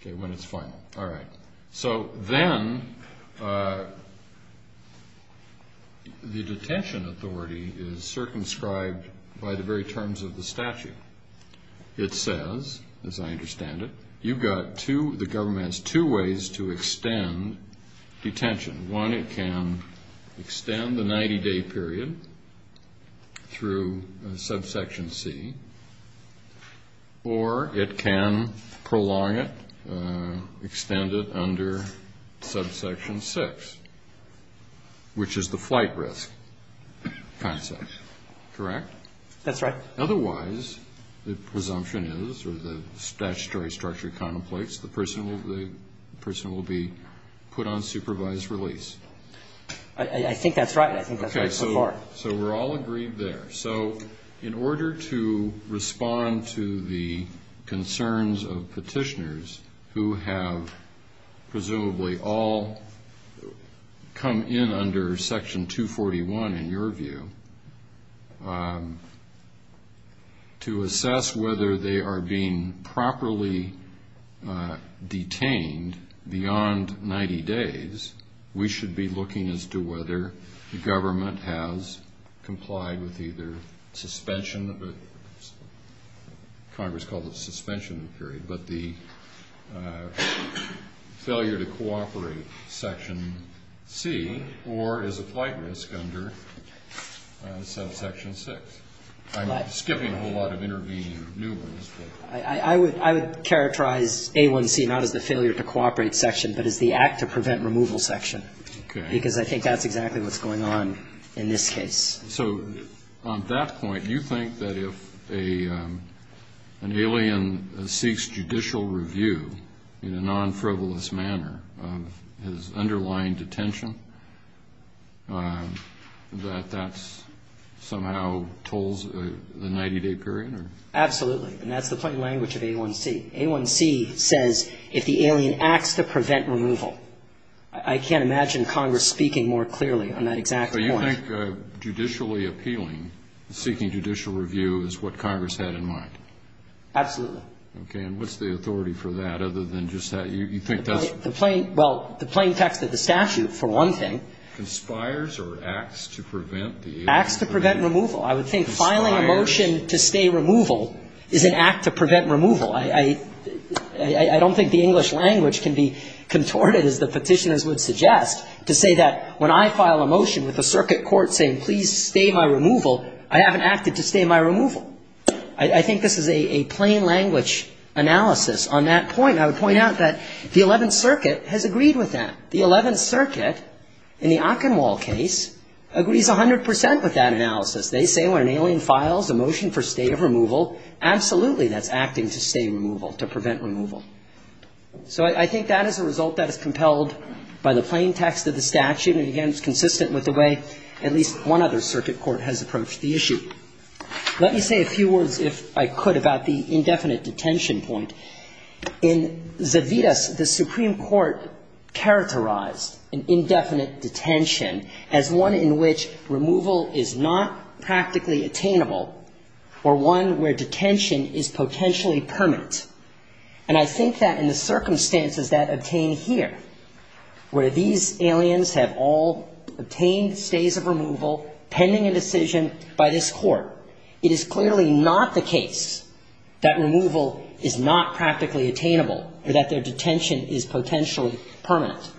Okay, when it's final. All right. So then the detention authority is circumscribed by the very terms of the statute. It says, as I understand it, you've got two, the government has two ways to extend detention. One, it can extend the 90-day period through subsection C, or it can prolong it, extend it under subsection 6, which is the flight risk process, correct? That's right. Otherwise, the presumption is, or the statutory structure contemplates, the person will be put on supervised release. I think that's right. Okay, so we're all agreed there. So in order to respond to the concerns of petitioners who have presumably all come in under section 241, in your view, to assess whether they are being properly detained beyond 90 days, we should be looking as to whether the government has complied with either suspension, Congress calls it failure to cooperate section C, or is a flight risk under subsection 6. I'm skipping a whole lot of intervening new ones. I would characterize A1C not as a failure to cooperate section, but as the act to prevent removal section, because I think that's exactly what's going on in this case. So, on that point, you think that if an alien seeks judicial review in a non-frivolous manner of his underlying detention, that that somehow tolls the 90-day period? Absolutely. And that's the funny language of A1C. A1C says, if the alien acts to prevent removal, I can't imagine Congress speaking more clearly on that exact point. So you think judicially appealing, seeking judicial review, is what Congress had in mind? Absolutely. Okay, and what's the authority for that, other than just that you picked up... Well, the plain fact that the statute, for one thing... Conspires or acts to prevent the alien... Acts to prevent removal. I would say filing a motion to stay removal is an act to prevent removal. I don't think the English language can be contorted as the petitioners would suggest, to say that when I file a motion with the circuit court saying please stay my removal, I haven't acted to stay my removal. I think this is a plain language analysis on that point. I would point out that the 11th Circuit has agreed with that. The 11th Circuit in the Ockenwald case agrees 100% with that analysis. They say when an alien files a motion for stay of removal, absolutely that's acting to stay removal, to prevent removal. So I think that is a result that is compelled by the plain text of the statute, and again it's consistent with the way at least one other circuit court has approached the issue. Let me say a few words if I could about the indefinite detention point. In Zavitas, the Supreme Court characterized indefinite detention as one in which removal is not practically attainable, or one where detention is potentially permanent. And I think that in the circumstances that obtain here, where these aliens have all attained stays of removal pending a decision by this court, it is clearly not the case that removal is not practically attainable, or that their detention is potentially permanent.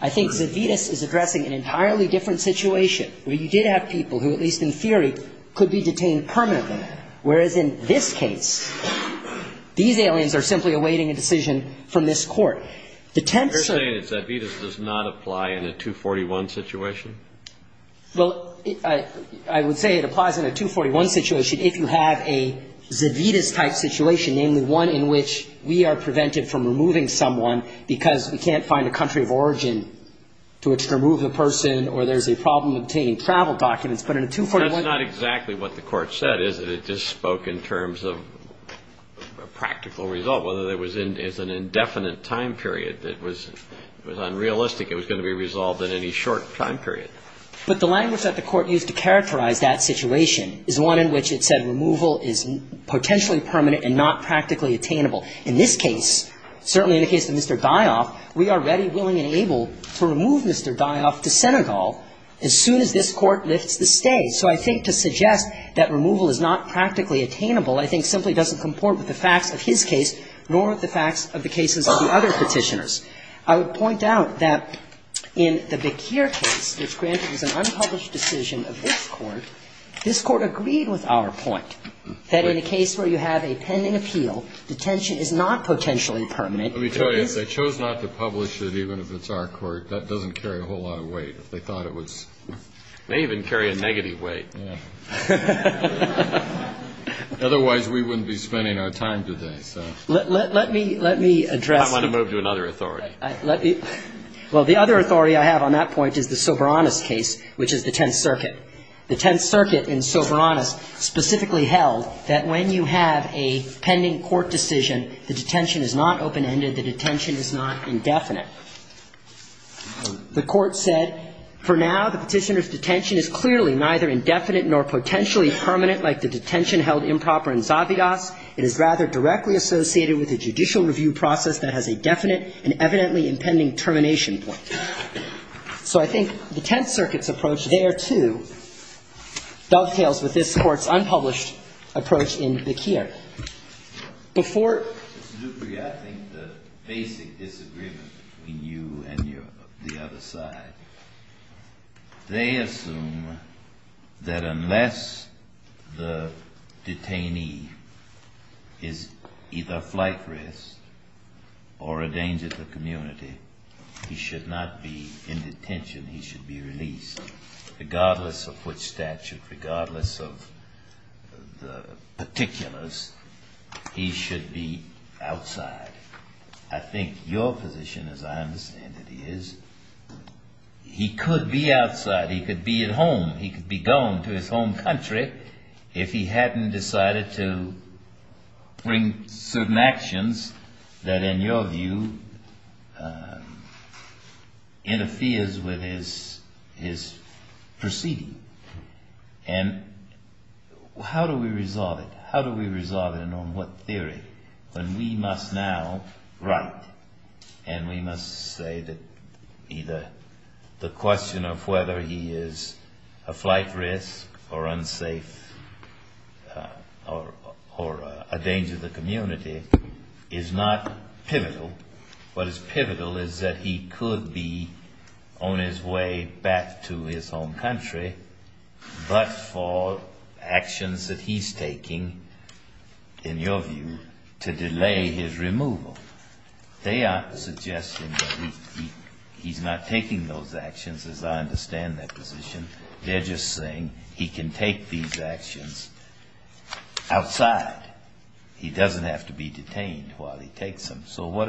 I think Zavitas is addressing an entirely different situation where you did have people who at least in theory could be detained permanently, whereas in this case these aliens are simply awaiting a decision from this court. You're saying that Zavitas does not apply in a 241 situation? Well, I would say it applies in a 241 situation if you have a Zavitas-type situation, namely one in which we are prevented from removing someone because we can't find a country of origin to which to remove a person, or there's a problem obtaining travel documents, but in a 241... That's not exactly what the court said, is it? It just spoke in terms of a practical result, whether there was an indefinite time period that was unrealistic. It was going to be resolved in any short time period. But the language that the court used to characterize that situation is one in which it said removal is potentially permanent and not practically attainable. In this case, certainly in the case of Mr. Dioff, we are ready, willing, and able to remove Mr. Dioff to Senegal as soon as this court lists the stay. So I think to suggest that removal is not practically attainable I think simply doesn't comport with the facts of his case, nor with the facts of the case of the other petitioners. I would point out that in the Bakir case, which granted an unpublished decision of this court, this court agreed with our point that in a case where you have a pending appeal, detention is not potentially permanent. Let me tell you, if they chose not to publish it, even if it's our court, that doesn't carry a whole lot of weight. They thought it was... It may even carry a negative weight. Otherwise, we wouldn't be spending our time doing that. Let me address... I don't want to move to another authority. Well, the other authority I have on that point is the Soberanus case, which is the Tenth Circuit. The Tenth Circuit in Soberanus specifically held that when you have a pending court decision, the detention is not open-ended, the detention is not indefinite. The court said, for now, the petitioner's detention is clearly neither indefinite nor potentially permanent like the detention held improper in Zabidas. It is rather directly associated with the judicial review process that has a definite and evidently impending termination point. So I think the Tenth Circuit's approach there, too, dovetails with this court's unpublished approach in Zakir. Before... I think the basic disagreement between you and the other side, they assume that unless the detainee is either flight risk or a danger to the community, he should not be in detention, he should be released. Regardless of which statute, regardless of the particulars, he should be outside. position, as I understand it, is he could be outside, he could be at home, he could be going to his home country if he hadn't decided to bring certain actions that, in your view, interferes with his proceeding. And how do we resolve it? How do we resolve it, and on what theory? We must now write, and we must say that either the question of whether he is a flight risk or unsafe or a danger to the community is not pivotal. What is pivotal is that he could be on his way back to his home country, but for actions that he's taking, in your view, to delay his removal. They are suggesting that he's not taking those actions, as I understand that position. They're just saying he can take these actions outside. He doesn't have to be detained while he takes them. So what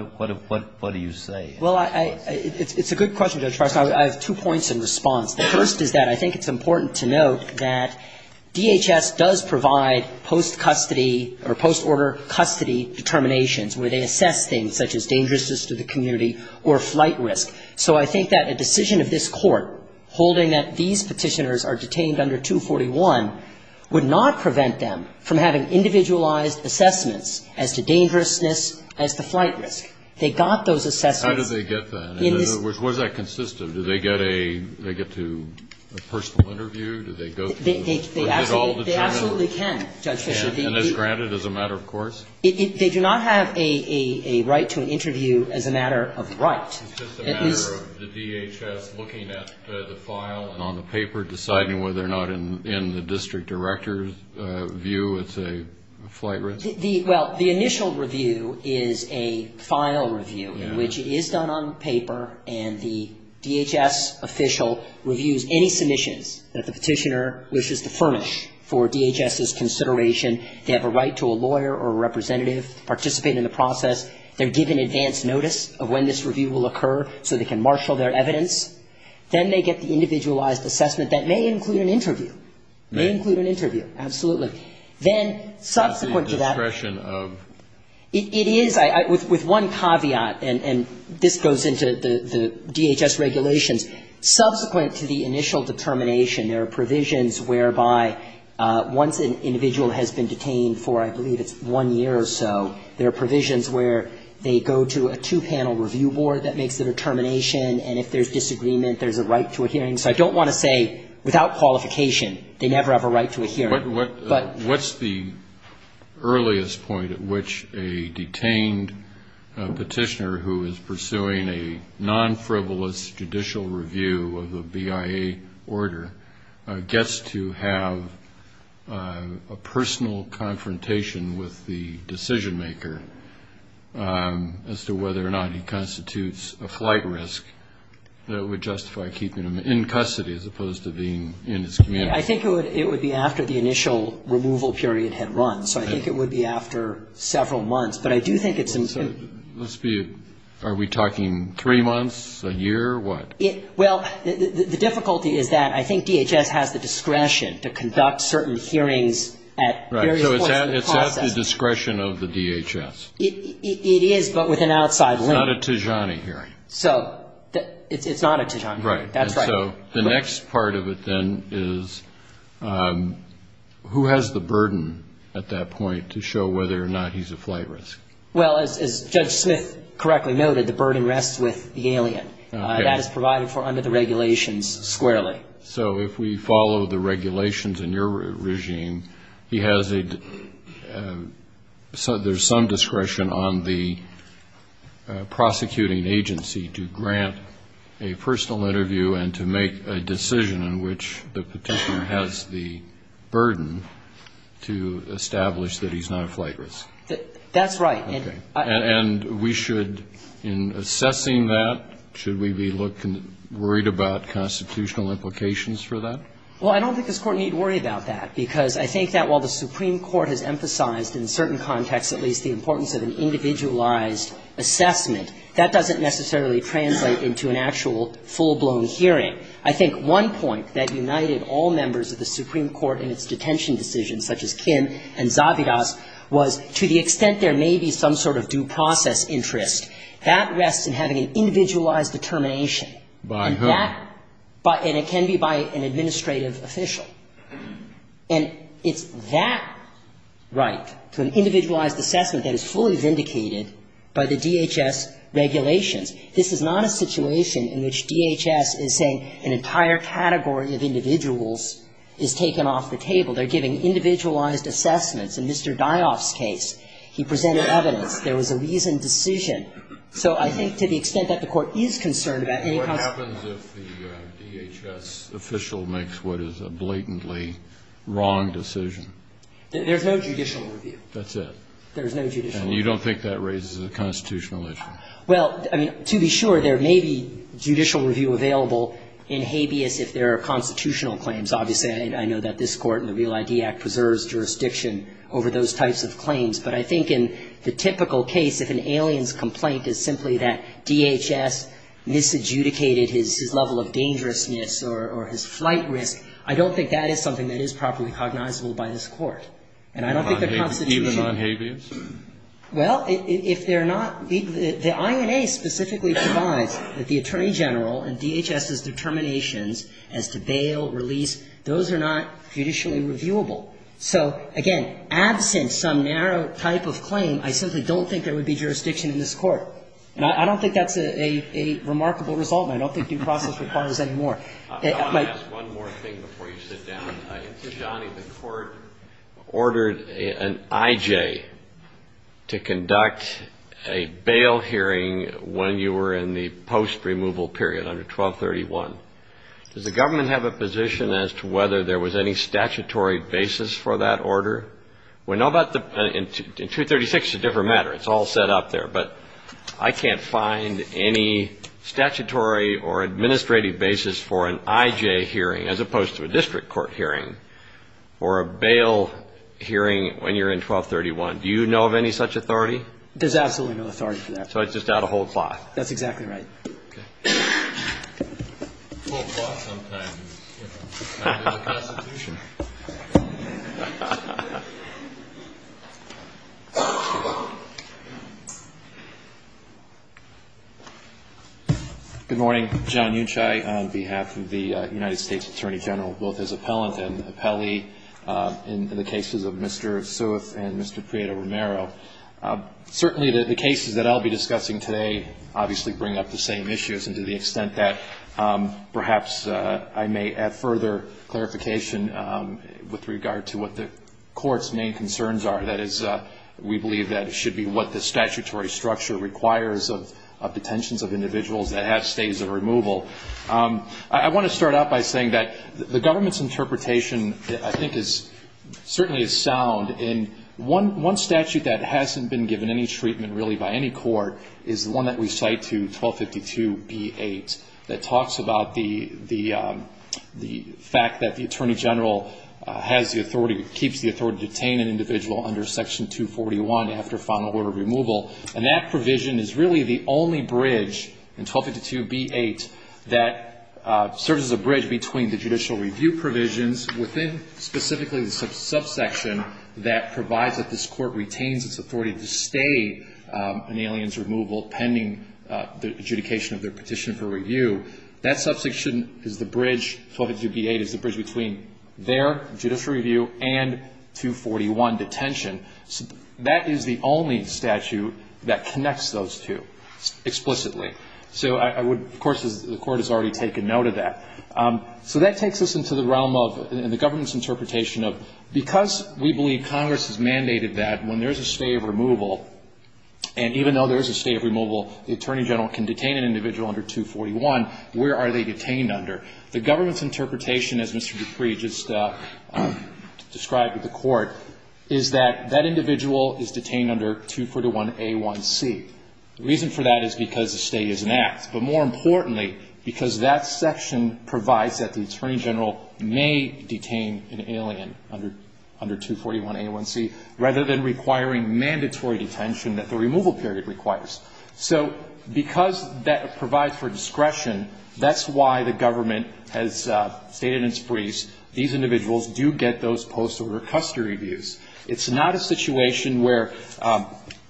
do you say? Well, it's a good question. I have two points in response. The first is that I think it's important to note that DHS does provide post-custody or post-order custody determinations where they assess things such as dangerousness to the community or flight risk. So I think that a decision of this court holding that these petitioners are detained under 241 would not prevent them from having individualized assessments as to dangerousness as to flight risk. How do they get that? Was that consistent? Do they get a personal interview? They absolutely can. And it's granted as a matter of course? They do not have a right to an interview as a matter of right. It's just a matter of the DHS looking at the file and on the paper deciding whether or not in the district director's view it's a flight risk? Well, the initial review is a final review which is done on paper and the DHS official reviews any submissions that the petitioner wishes to furnish for DHS's consideration They have a right to a lawyer or a representative to participate in the process. They're given advance notice of when this review will occur so they can marshal their evidence. Then they get the individualized assessment that may include an interview. May include an interview, absolutely. Then subsequent to that It is with one caveat and this goes into the DHS regulations. Subsequent to the initial determination there are provisions whereby once an individual has been detained for I believe it's one year or so there are provisions where they go to a two panel review board that makes the determination and if there's disagreement there's a right to a hearing. I don't want to say without qualification they never have a right to a hearing. What's the earliest point at which a detained petitioner who is pursuing a non-frivolous judicial review of a BIA order gets to have a personal confrontation with the decision maker as to whether or not he constitutes a flight risk that would justify keeping him in custody as opposed to being in his community. I think it would be after the initial removal period had run so I think it would be after several months but I do think it seems to Are we talking three months? A year? What? Well, the difficulty is that I think DHS has the discretion to conduct certain hearings at various points in the process. It's not the discretion of the DHS. It is but with an outside limit. It's not a Tijana hearing. It's not a Tijana hearing. The next part of it then is who has the burden at that point to show whether or not he's a flight risk? Well as Judge Smith correctly noted the burden rests with the alien. That is provided for under the regulations squarely. So if we follow the regulations in your regime he has a there's some discretion on the prosecuting agency to grant a personal interview and to make a decision in which the petitioner has the burden to establish that he's not a flight risk. That's right. And we should in assessing that should we be worried about constitutional implications for that? Well I don't think this Court needs to worry about that because I think that while the Supreme Court has emphasized in certain contexts at least the importance of an individualized assessment, that doesn't necessarily translate into an actual full-blown hearing. I think one point that united all members of the Supreme Court in its detention decisions such as Kim and Zabihas was to the extent there may be some sort of due process interest that rests in having an individualized determination. By who? And it can be by an administrative official. And it's that right to an individualized assessment that is fully vindicated by the DHS regulations. This is not a situation in which DHS is saying an entire category of individuals is taken off the table. They're giving individualized assessments. In Mr. Dias' case, he presented evidence. There was a reasoned decision. So I think to the extent that the Court is concerned about any kind of... What happens if the DHS official makes what is a blatantly wrong decision? There's no judicial review. And you don't think that raises a constitutional issue? Well, to be sure, there may be judicial review available in habeas if there are constitutional claims. Obviously, I know that this Court and the Real ID Act preserves jurisdiction over those types of claims. But I think in the typical case, if an alien's complaint is simply that DHS misadjudicated his level of dangerousness or his flight risk, I don't think that is something that is properly cognizable by this Court. And I don't think the Constitution... Even on habeas? Well, if they're not... I may specifically survive that the Attorney General and DHS's determinations as to bail, release, those are not judicially reviewable. So, again, absent some narrow type of claim, I simply don't think there would be jurisdiction in this Court. And I don't think that's a remarkable result. I don't think due process requires any more. One more thing before you sit down. Mr. Johnny, the Court ordered an IJ to conduct a bail hearing when you were in the post- 1231. Does the government have a position as to whether there was any statutory basis for that order? In 236, it's a different matter. It's all set up there. But I can't find any statutory or administrative basis for an IJ hearing, as opposed to a district court hearing, or a bail hearing when you're in 1231. Do you know of any such authority? There's absolutely no authority for that. So it's just out of whole cloth. That's exactly right. Good morning. John Unshie on behalf of the United States Attorney General, both as appellant and appellee in the cases of Mr. Seuss and Mr. Prieto Romero. Certainly the cases that I'll be discussing today obviously bring up the same issues, and to the extent that perhaps I may add further clarification with regard to what the Court's main concerns are. That is, we believe that it should be what the statutory structure requires of detentions of individuals that have stays of removal. I want to start out by saying that the government's interpretation I think is certainly sound. In one provision, really by any court, is one that we cite to 1252 B-8 that talks about the fact that the Attorney General has the authority, keeps the authority to detain an individual under Section 241 after final order of removal. And that provision is really the only bridge in 1252 B-8 that serves as a bridge between the judicial review provisions within specifically the subsection that provides that this an alien's removal pending the adjudication of the petition for review. That subsection is the bridge, 1252 B-8, is the bridge between their judicial review and 241 detention. That is the only statute that connects those two explicitly. So I would, of course, the Court has already taken note of that. So that takes us into the realm of, in the government's interpretation of, because we believe Congress has mandated that when there is a stay of removal, and even though there is a stay of removal, the Attorney General can detain an individual under 241, where are they detained under? The government's interpretation, as Mr. Dupree just described to the Court, is that that individual is detained under 241 A1C. The reason for that is because the stay is an act. But more importantly, because that section provides that the Attorney General may detain an alien under 241 A1C, rather than requiring mandatory detention that the removal period requires. So because that provides for discretion, that's why the government has stated in its briefs, these individuals do get those post-order custody reviews. It's not a situation where,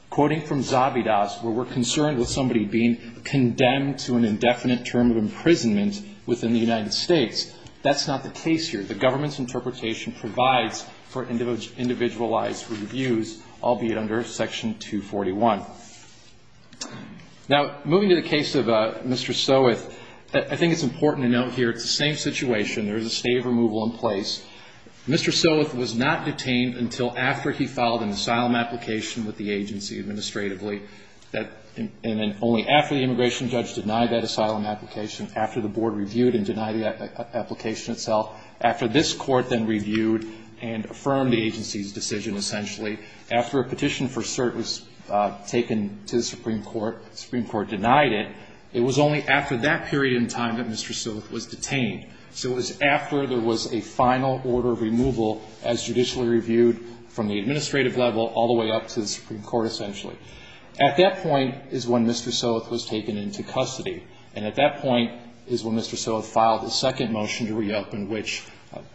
quoting from Zabidas, where we're concerned with somebody being condemned to an indefinite term of imprisonment within the United States. That's not the case here. The government's intent is to provide individualized reviews, albeit under Section 241. Now, moving to the case of Mr. Stoweth, I think it's important to note here, the same situation. There's a stay of removal in place. Mr. Stoweth was not detained until after he filed an asylum application with the agency administratively. And then only after the immigration judge denied that asylum application, after the board reviewed and denied the application itself, after this court then reviewed and affirmed the agency's decision essentially, after a petition for cert was taken to the Supreme Court, the Supreme Court denied it, it was only after that period in time that Mr. Stoweth was detained. So it was after there was a final order of removal as judicially reviewed from the administrative level all the way up to the Supreme Court essentially. At that point is when Mr. Stoweth was taken into custody. And at that point is when Mr. Stoweth filed the second motion to reopen, which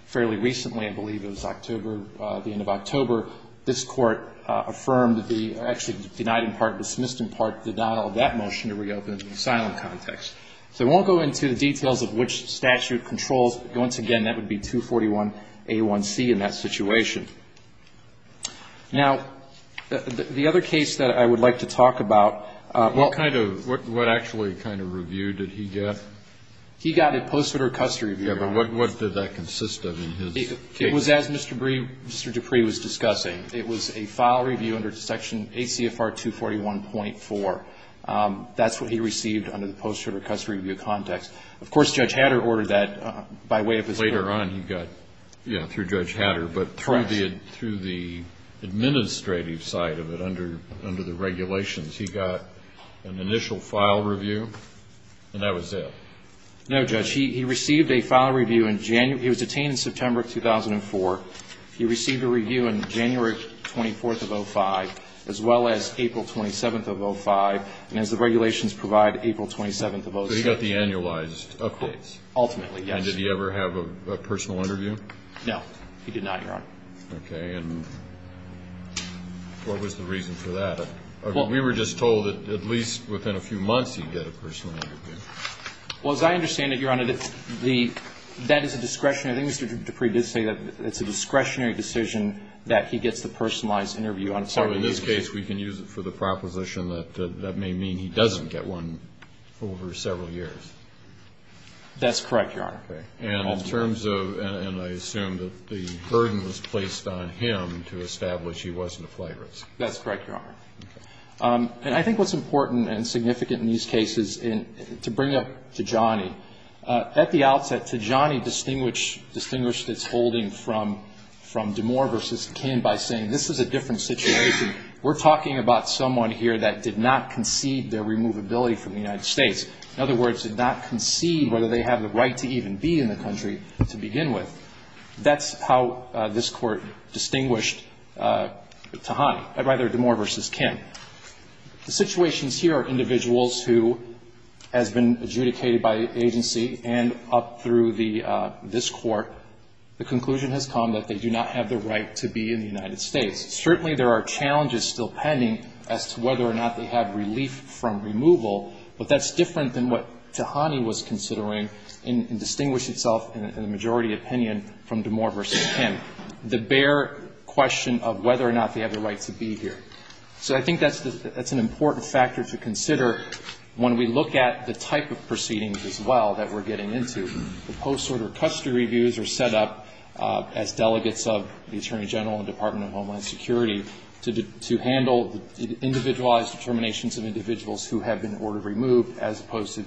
fairly recently, I believe it was October, the end of October, this court affirmed the or actually denied in part, dismissed in part the denial of that motion to reopen in asylum context. So we won't go into the details of which statute controls, but once again, that would be 241 A1C in that situation. Now, the other case that I would like to talk about... What actually kind of review did he get? He got a post-treater custody review. What did that consist of in his case? It was as Mr. Dupree was discussing. It was a file review under section ACFR 241.4. That's what he received under the post-treater custody review context. Of course, Judge Hatter ordered that by way of his... Later on he got, yeah, through Judge Hatter, but through the administrative side of it, under the regulations, he got an annualized update. And that was it? No, Judge. He received a file review in January... He was detained in September 2004. He received a review in January 24th of 2005, as well as April 27th of 2005, and as the regulations provide, April 27th of... So he got the annualized updates? Ultimately, yes. And did he ever have a personal interview? No. He did not, Your Honor. Okay, and what was the reason for that? We were just told that at least within a few months he'd get a personal interview. Well, as I understand it, Your Honor, that is a discretionary... I think Mr. Dupree did say that it's a discretionary decision that he gets the personalized interview on a particular... So in this case, we can use it for the proposition that that may mean he doesn't get one over several years. That's correct, Your Honor. And in terms of... And I on him to establish he wasn't a flagrant. That's correct, Your Honor. And I think what's important and significant in these cases is to bring up Tijani. At the outset, Tijani distinguished its holding from DeMore v. Kin by saying, this is a different situation. We're talking about someone here that did not concede their removability from the United States. In other words, did not concede whether they have the right to even be in the country to begin with. That's how this court distinguished Tijani, or rather DeMore v. Kin. The situations here are individuals who have been adjudicated by the agency and up through this court. The conclusion has come that they do not have the right to be in the United States. Certainly, there are challenges still pending as to whether or not they have relief from removal, but that's different than what Tijani was considering in distinguishing itself in the majority opinion from DeMore v. Kin. I think that's an important factor to consider when we look at the type of proceedings as well that we're getting into. The post-order custody reviews are set up as delegates of the Attorney General and Department of Homeland Security to handle individualized determinations of individuals who have been ordered removed as opposed to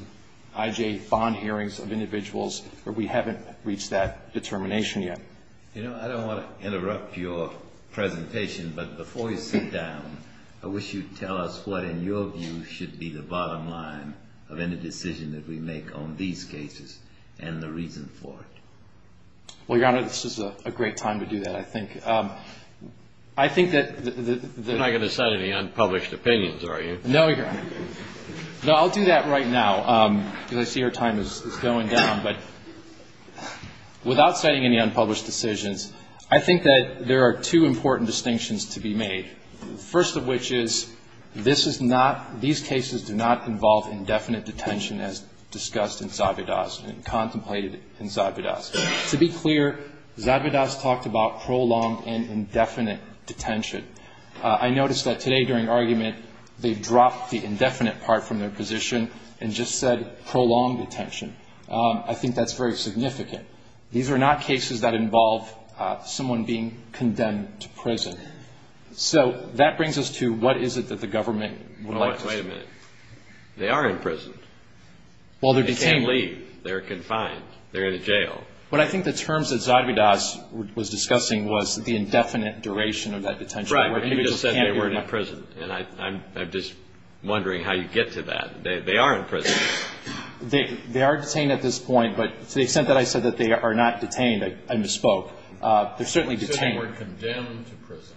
IJ bond hearings of individuals where we haven't reached that determination yet. You know, I don't want to interrupt your presentation, but before you sit down, I wish you'd tell us what, in your view, should be the bottom line of any decision that we make on these cases and the reason for it. Well, Your Honor, this is a great time to do that, I think. I think that... You're not going to say the unpublished opinions, are you? No, Your Honor. No, I'll do that right now because I see our time is going down, but without saying any unpublished decisions, I think that there are two important distinctions to be made. First of which is this is not... these cases do not involve indefinite detention as discussed in Zabidas and contemplated in Zabidas. To be clear, Zabidas talked about prolonged and indefinite detention. I noticed that today during argument, they dropped the indefinite part from their position and just said prolonged detention. I think that's very significant. These are not cases that involve someone being condemned to prison. So, that brings us to what is it that the government... Wait a minute. They are in prison. They can't leave. They're confined. They're in jail. But I think the terms that Zabidas was discussing was the indefinite duration of that detention. Right, but you just said they were in prison and I'm just wondering how you get to that. They are in prison. They are detained at this point, but to the extent that I said that they are not detained and bespoke, they're certainly detained. You said they were condemned to prison.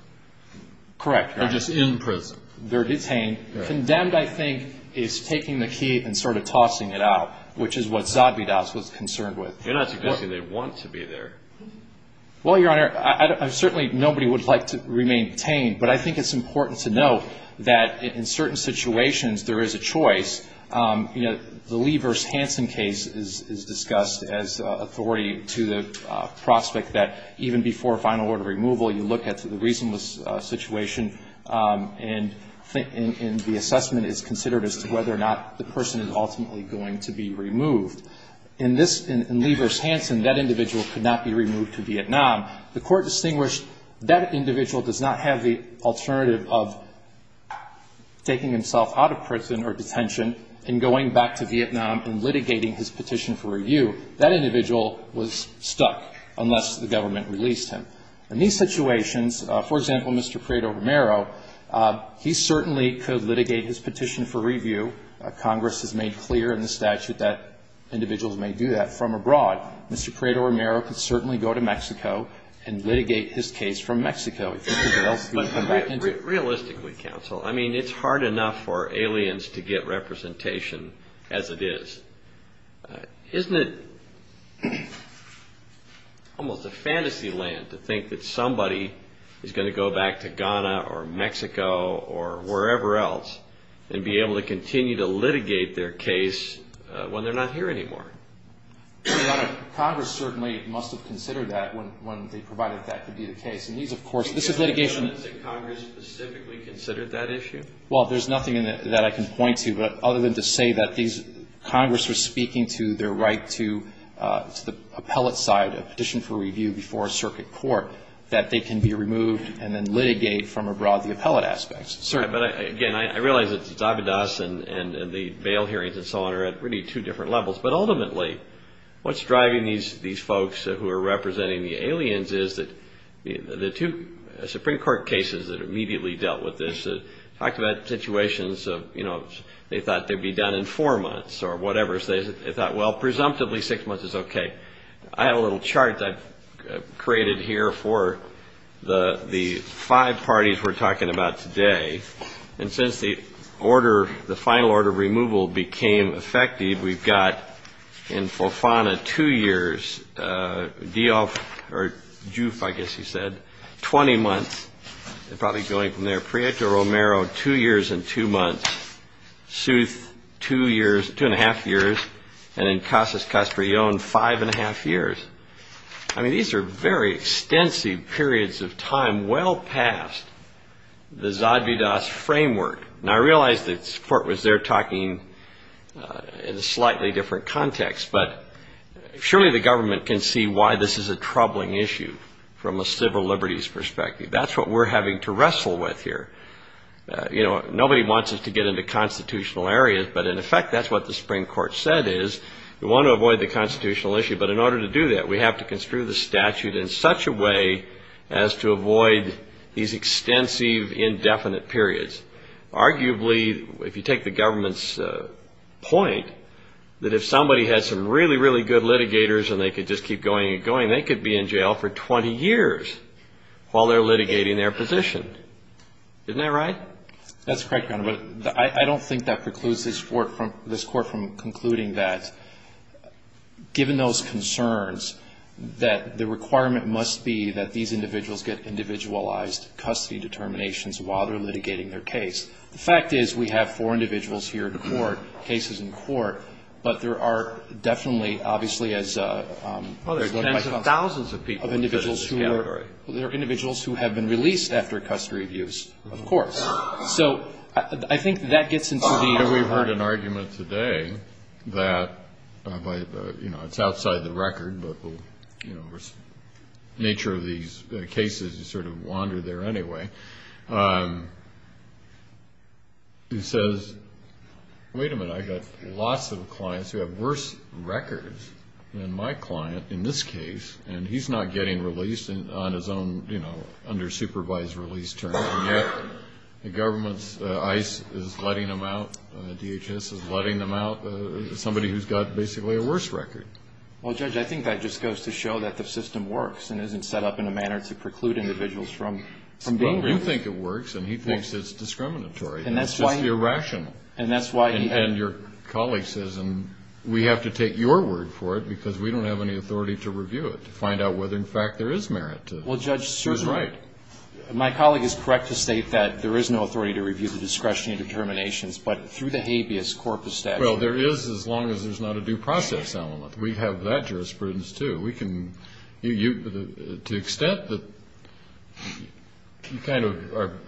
Correct. They're just in prison. They're detained. Condemned, I think, is taking the key and sort of tossing it out, which is what Zabidas was concerned with. They're not suggesting they want to be there. Well, Your Honor, certainly nobody would like to remain detained, but I think it's important to note that in certain situations, there is a choice. You know, the Levers-Hanson case is discussed as authority to the prospect that even before final order removal, you look at the reasonableness situation and the assessment is considered as to whether or not the person is ultimately going to be removed. In this, in Levers-Hanson, that individual could not be removed to Vietnam. The court distinguished that individual does not have the option of taking himself out of prison or detention and going back to Vietnam and litigating his petition for review. That individual was stuck unless the government released him. In these situations, for example, Mr. Prado-Romero, he certainly could litigate his petition for review. Congress has made clear in the statute that individuals may do that from abroad. Mr. Prado-Romero could certainly go to Mexico and litigate his case from Mexico. Realistically, counsel, it is hard enough for aliens to get representation as it is. Isn't it almost a fantasy land to think that somebody is going to go back to Ghana or Mexico or wherever else and be able to continue to litigate their case when they are not here anymore? Congress certainly must have considered that when they provided that to be the case. Has Congress specifically considered that issue? Well, there is nothing that I can point to other than to say that Congress is speaking to their right to the appellate side of the petition for review before a circuit court that they can be removed and then litigate from abroad the appellate aspect. I realize that Zabidas and the bail hearings and so on are at really two different levels, but ultimately what is driving these folks who are representing the aliens is that the two Supreme Court cases that immediately dealt with this talked about situations of, you know, they thought they would be done in four months or whatever. They thought, well, presumptively six months is okay. I have a little chart that I created here for the five parties we are talking about today. Since the order, the final order of removal became effective, we have got in the last 20 months, probably going from there, Prieto-Romero two years and two months, South two and a half years, and then Casas-Castrillon five and a half years. These are very extensive periods of time, well past the Zabidas framework. I realize the court was there talking in a slightly different context, but surely the government can see why this is a troubling issue from a civil liberties perspective. That is what we are having to wrestle with here. Nobody wants us to get into constitutional areas, but in effect that is what the Supreme Court said is, we want to avoid the constitutional issue, but in order to do that, we have to construe the statute in such a way as to avoid these extensive indefinite periods. Arguably, if you take the government's point, that if somebody had some really good litigators and they could just keep going and going, they could be in jail for 20 years while they are litigating their position. Isn't that right? That is correct, but I don't think that precludes this court from concluding that, given those concerns, that the requirement must be that these individuals get individualized custody determinations while they are litigating their case. The fact is, we have four individuals here in court, cases in court, but there are definitely, obviously, there are tens of thousands of people in this category. There are individuals who have been released after custody reviews, of course. I think that gets into the... We have heard an argument today that, it is outside the record, but the nature of these cases is sort of wander there anyway. He says, wait a minute, I have lots of clients who have worse records than my client in this case, and he is not getting released on his own, you know, under supervised release terms, and yet the government's ICE is letting them out, DHS is letting them out, somebody who has got basically a worse record. Well, Judge, I think that just goes to show that the system works and isn't set up in a manner to preclude individuals from being released. Well, you think it works and he thinks it's discriminatory. It's just irrational. And that's why he... And your colleague says, we have to take your word for it, because we don't have any authority to review it, to find out whether, in fact, there is merit to it. Well, Judge, my colleague is correct to state that there is no authority to review the discretionary determinations, but through the habeas corpus... Well, there is, as long as there is not a due process element. We have that jurisprudence, too. We can... To the extent that you kind of are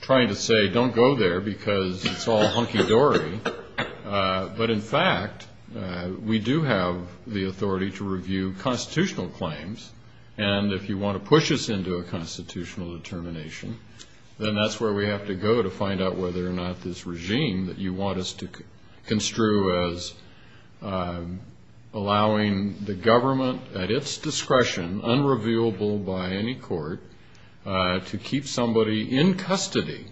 trying to say, don't go there, because it's all hunky-dory, but in fact, we do have the authority to review constitutional claims, and if you want to push us into a constitutional determination, then that's where we have to go to find out whether or not this regime that you want us to construe as allowing the government at its discretion, unrevealable by any court, to keep somebody in custody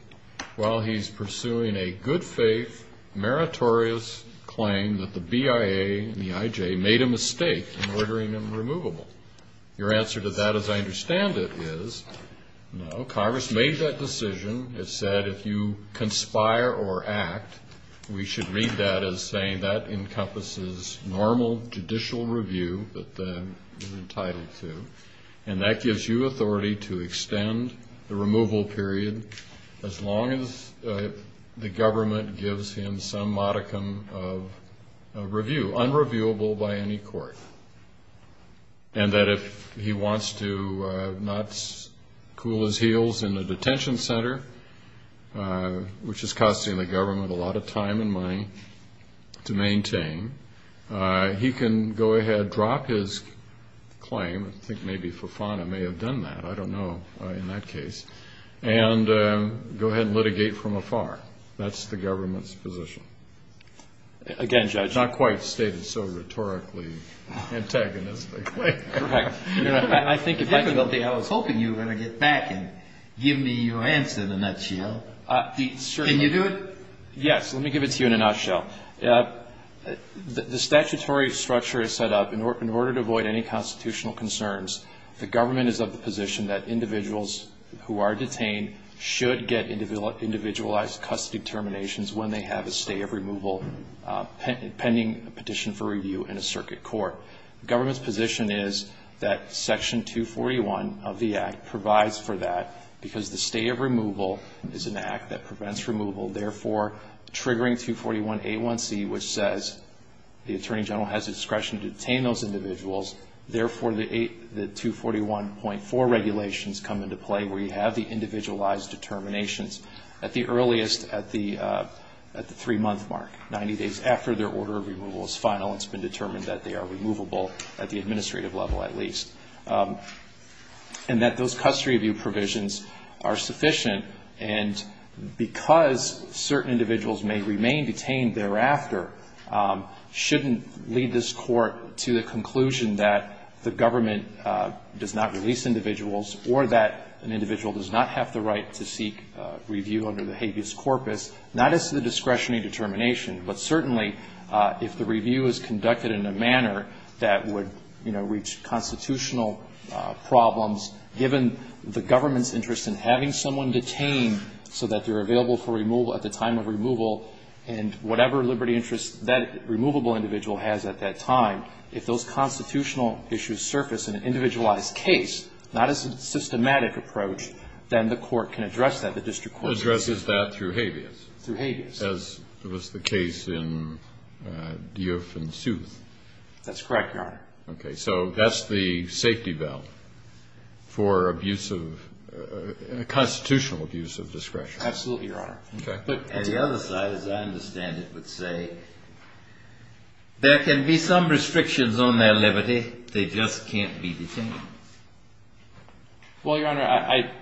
while he's pursuing a good-faith, meritorious claim that the BIA, the IJ, made a mistake in ordering them removable. Your answer to that, as I understand it, is, no, Congress made that decision. It said if you conspire or act, we should read that as saying that encompasses normal judicial review that you're entitled to, and that gives you authority to extend the removal period as long as the government gives him some modicum of review, unrevealable by any court, and that if he wants to not cool his heels in the detention center, which is costing the government a lot of time and money to maintain, he can go ahead, drop his claim, I think maybe Fofana may have done that, I don't know in that case, and go ahead and litigate from afar. That's the government's position. Again, Judge. Not quite stated so rhetorically, antagonistically. Correct. I think if I could, I was hoping you were going to get back and give me your answer in a nutshell. Can you do it? Yes, let me give it to you in a nutshell. The statutory structure is set up in order to avoid any constitutional concerns. The government is of the position that individuals who are detained should get individualized custody terminations when they have a stay of removal pending petition for review in a circuit court. The government's position is that Section 241 of the Act provides for that because the stay of removal is an act that prevents removal, therefore triggering 241 A1C, which says the Attorney General has discretion to detain those individuals, therefore the 241.4 regulations come into play where you have the individualized determinations at the earliest, at the three-month mark, 90 days after their order of removal is final. It's been determined that they are removable at the administrative level, at least. And that those custody review provisions are sufficient and because certain individuals may remain detained thereafter, shouldn't lead this court to the conclusion that the government does not release individuals or that an individual does not have the right to seek review under the habeas corpus, not as to the discretion and determination, but certainly if the review is conducted in a manner that would reach constitutional problems, given the government's interest in having someone detained so that they're available for removal at the time of removal and whatever liberty interest that removable individual has at that time, if those constitutional issues surface in an individualized case, not as systematic a privilege, then the court can address that, the district court can address that. Addresses that through habeas. Through habeas. As was the case in Deuff and Sooth. That's correct, Your Honor. Okay, so that's the safety belt for abuse of constitutional abuse of discretion. Absolutely, Your Honor. And the other side, as I understand it, would say there can be some restrictions on their liberty, they just can't be detained. Well, Your Honor,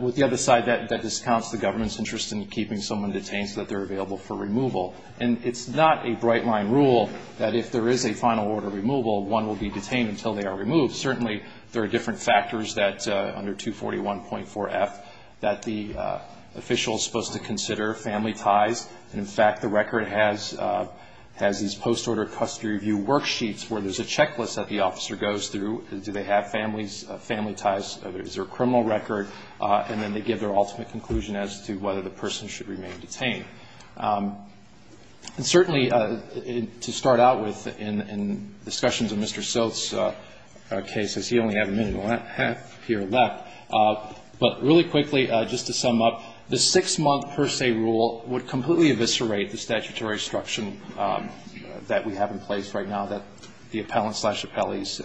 with the other side, that discounts the government's interest in keeping someone detained so that they're available for removal, and it's not a bright line rule that if there is a final order of removal, one will be detained until they are removed. Certainly, there are different factors that, under 241.4 F, that the official is supposed to consider, family ties. In fact, the record has these post-order custody review worksheets where there's a checklist that the officer goes through, do they have family ties, is there a criminal record, and then they give their ultimate conclusion as to whether the person should remain detained. And certainly, to start out with, in discussions of Mr. Stokes' case, as he only had a minute here left, but really quickly, just to sum up, the six-month per se rule would completely eviscerate the statutory instruction that we have in place right now that the appellants slash appellees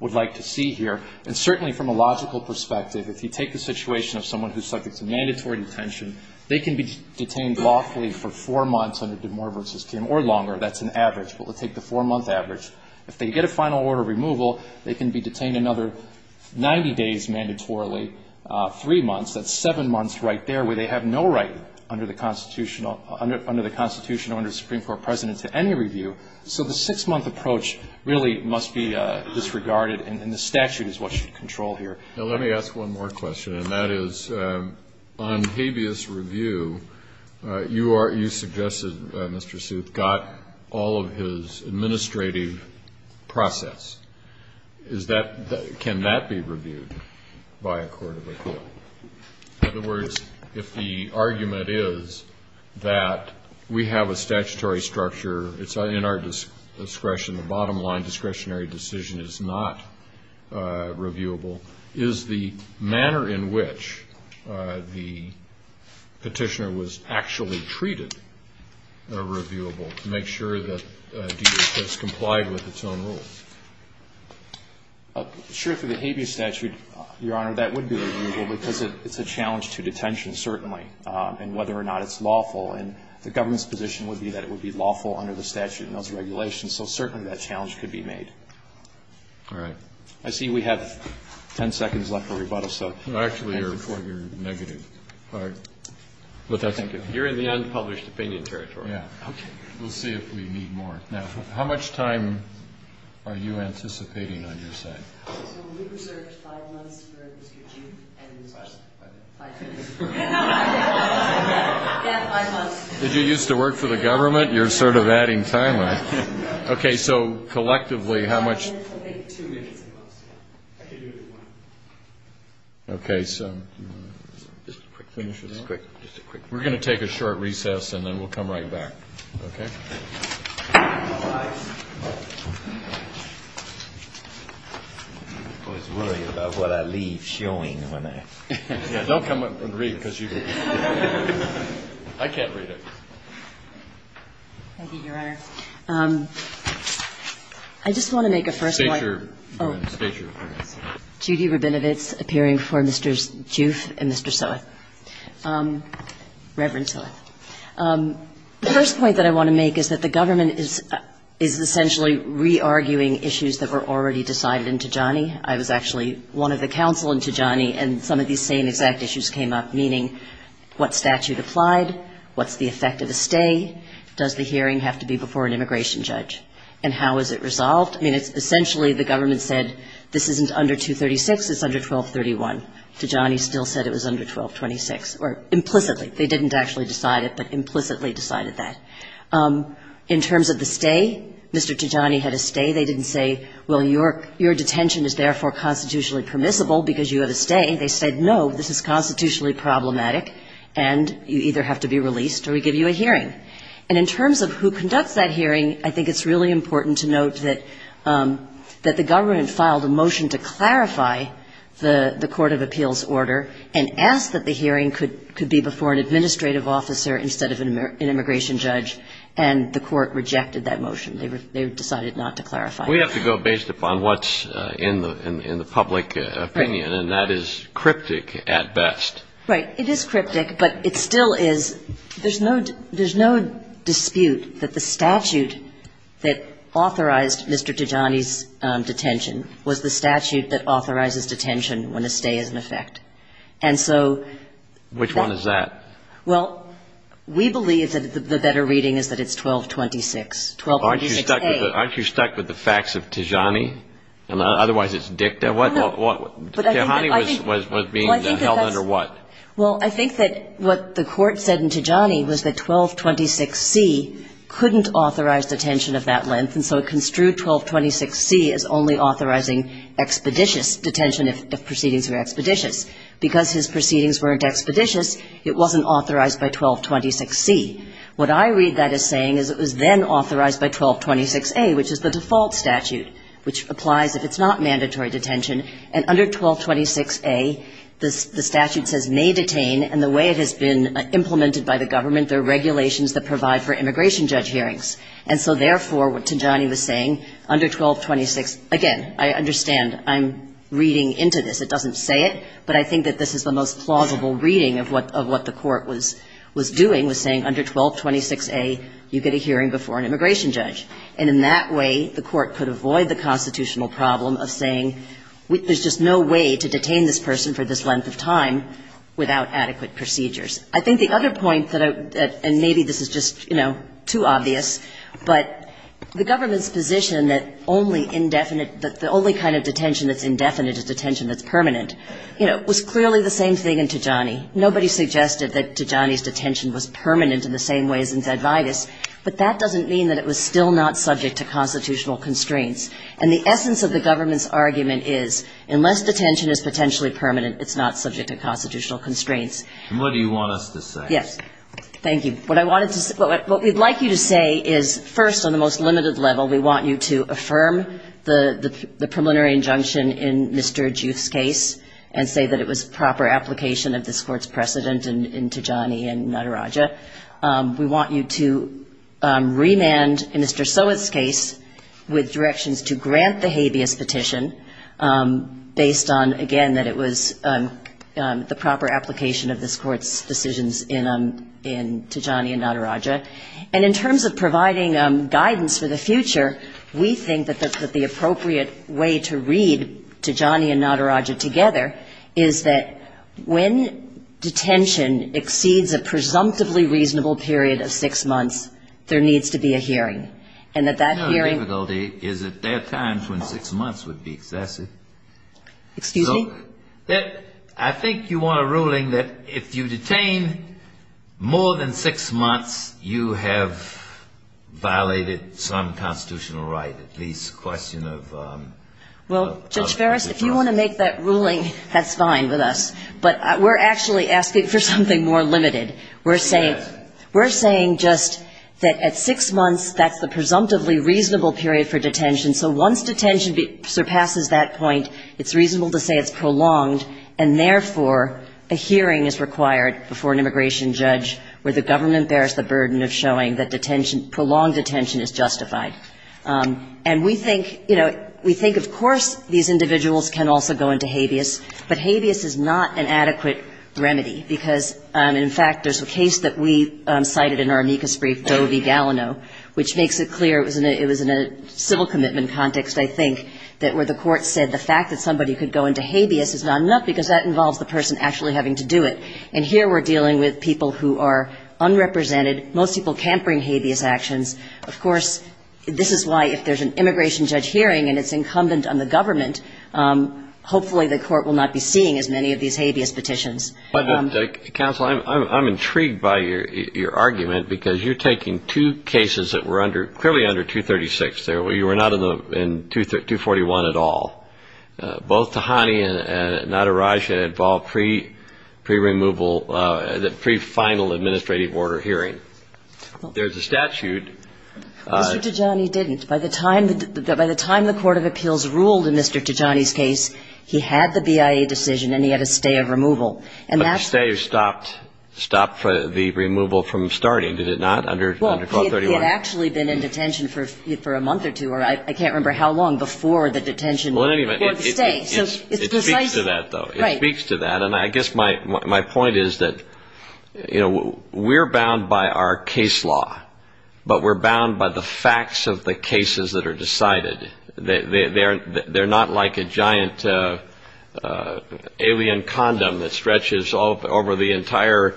would like to see here. And certainly, from a logical perspective, if you take the situation of someone who's subject to mandatory detention, they can be detained lawfully for four months on a de mortem or longer, that's an average, but let's take the four-month average. If they get a final order of removal, they can be detained another 90 days mandatorily, three months, that's seven months right there where they have no right under the Constitution or under the Supreme Court precedent to any review. So the six-month approach really must be disregarded, and the statute is what you control here. Now let me ask one more question, and that is on habeas review, you suggested, Mr. Sooth, got all of his administrative process. Can that be reviewed by a court of appeal? In other words, if the argument is that we have a statutory structure, it's in our discretion, the bottom line discretionary decision is not reviewable, is the manner in which the petitioner was actually treated reviewable to make sure that it's complied with its own rules? Sure, for the habeas statute, Your Honor, that would be reviewable because it's a challenge to detention, certainly, and whether or not it's lawful, and the government's position would be that it would be lawful under the statute and those regulations, so certainly that challenge could be made. All right. I see we have 10 seconds left for rebuttal, so Actually, Your Honor, you're negative. You're in the unpublished opinion territory. We'll see if we need more. Now, how much time are you anticipating on your side? If you used to work for the government, you're sort of adding time on it. So, collectively, how much Okay. Okay, so We're going to take a short recess, and then we'll come right back. Okay? Don't come up and read, because you're going to I can't read it. Thank you, Your Honor. I just want to make a first point. Judy Rabinowitz, appearing before Mr. Joof and Mr. Soto. Reverend Soto. The first point that I want to make is that the government is essentially re-arguing issues that were already decided in Tijani. I was actually one of the counsel in Tijani, and some of these same exact issues came up, meaning what statute applied, what's the effect of a stay, does the hearing have to be before an immigration judge, and how is it resolved? Essentially, the government said this isn't under 236, it's under 1231. Tijani still said it was under 1226, or implicitly. They didn't actually decide it, but implicitly decided that. In terms of the stay, Mr. Tijani had a stay. They didn't say, well, your detention is therefore constitutionally permissible because you have a stay. They said, no, this is constitutionally problematic, and you either have to be or you have to be in the hearing. In terms of who conducts that hearing, I think it's really important to note that the government filed a motion to clarify the Court of Appeals order and asked that the hearing could be before an administrative officer instead of an immigration judge, and the court rejected that motion. They decided not to clarify it. We have to go based upon what's in the public opinion, and that is cryptic at best. Right. It is cryptic, but it still is. There's no dispute that the statute that authorized Mr. Tijani's detention was the statute that authorizes detention when a stay is in effect. And so... Which one is that? Well, we believe that the better reading is that it's 1226. Aren't you stuck with the facts of Tijani? Otherwise it's dicta. Tijani was being held under what? Well, I think that what the court said to Tijani was that 1226C couldn't authorize detention of that length, and so it construed 1226C as only authorizing expeditious detention of proceedings through expeditions. Because his proceedings weren't expeditious, it wasn't authorized by 1226C. What I read that as saying is it was then authorized by 1226A, which is the default statute, which applies if it's not mandatory detention, and under 1226A the statute says may detain, and the way it has been implemented by the government, there are regulations that provide for immigration judge hearings. And so therefore, what Tijani was saying, under 1226... Again, I understand I'm reading into this. It doesn't say it, but I think that this is the most plausible reading of what the court was doing, was saying under 1226A you get a hearing before an immigration judge. And in that way, the court could avoid the constitutional problem of saying there's just no way to detain this person for this length of time without adequate procedures. I think the other point, and maybe this is just too obvious, but the government's position that the only kind of detention that's indefinite is detention that's permanent was clearly the same thing in Tijani. Nobody suggested that Tijani's detention was permanent in the same way as in Guadalajara, but that doesn't mean that it was still not subject to constitutional constraints. And the essence of the government's argument is, unless detention is potentially permanent, it's not subject to constitutional constraints. And what do you want us to say? Yes. Thank you. What I wanted to say... What we'd like you to say is, first, on the most limited level, we want you to affirm the preliminary injunction in Mr. Juth's case and say that it was proper application of this court's precedent in Tijani and in Nairaja. We want you to remand Mr. Sowett's case with directions to grant the habeas petition based on, again, that it was the proper application of this court's decisions in Tijani and Nairaja. And in terms of providing guidance for the future, we think that the appropriate way to read Tijani and Nairaja together is that when detention exceeds a presumptively reasonable period of six months, that hearing... No, the difficulty is that their time between six months would be excessive. Excuse me? I think you want a ruling that if you detain more than six months, you have violated some constitutional right, at least a question of... Well, Judge Ferris, if you want to make that ruling, that's fine with us. But we're actually asking for something more limited. We're saying just that at six months, that's the presumptively reasonable period for detention. So once detention surpasses that point, it's reasonable to say it's prolonged, and therefore a hearing is required before an immigration judge where the government bears the burden of showing that prolonged detention is justified. And we think, you know, we think, of course, these individuals can also go into habeas, but habeas is not an adequate remedy because, in fact, there's a case that we cited in our amicus brief, Jody Dalino, which makes it clear it was in a civil commitment context, I think, where the court said the fact that somebody could go into habeas is not enough because that involves the person actually having to do it. And here we're dealing with people who are unrepresented. Most people can't bring habeas action. Of course, this is why if there's an immigration judge hearing and it's incumbent on the government, hopefully the court will not be seeing as many of these habeas petitions. Counsel, I'm intrigued by your argument because you're taking two cases that were clearly under 236. You were not in 241 at all. Both Tahani and Nadaraj had involved pre-removal, pre-final administrative order hearing. There's a statute... Mr. Tajani didn't. By the time the Court of Appeals ruled in Mr. Tajani's case, he had the BIA decision and he had a stay of removal. But the stay stopped the removal from starting, did it not? It had actually been in detention for a month or two or I can't remember how long before the detention... It speaks to that though. And I guess my point is that we're bound by our case law but we're bound by the facts of the cases that are decided. They're not like a giant alien condom that stretches all over the entire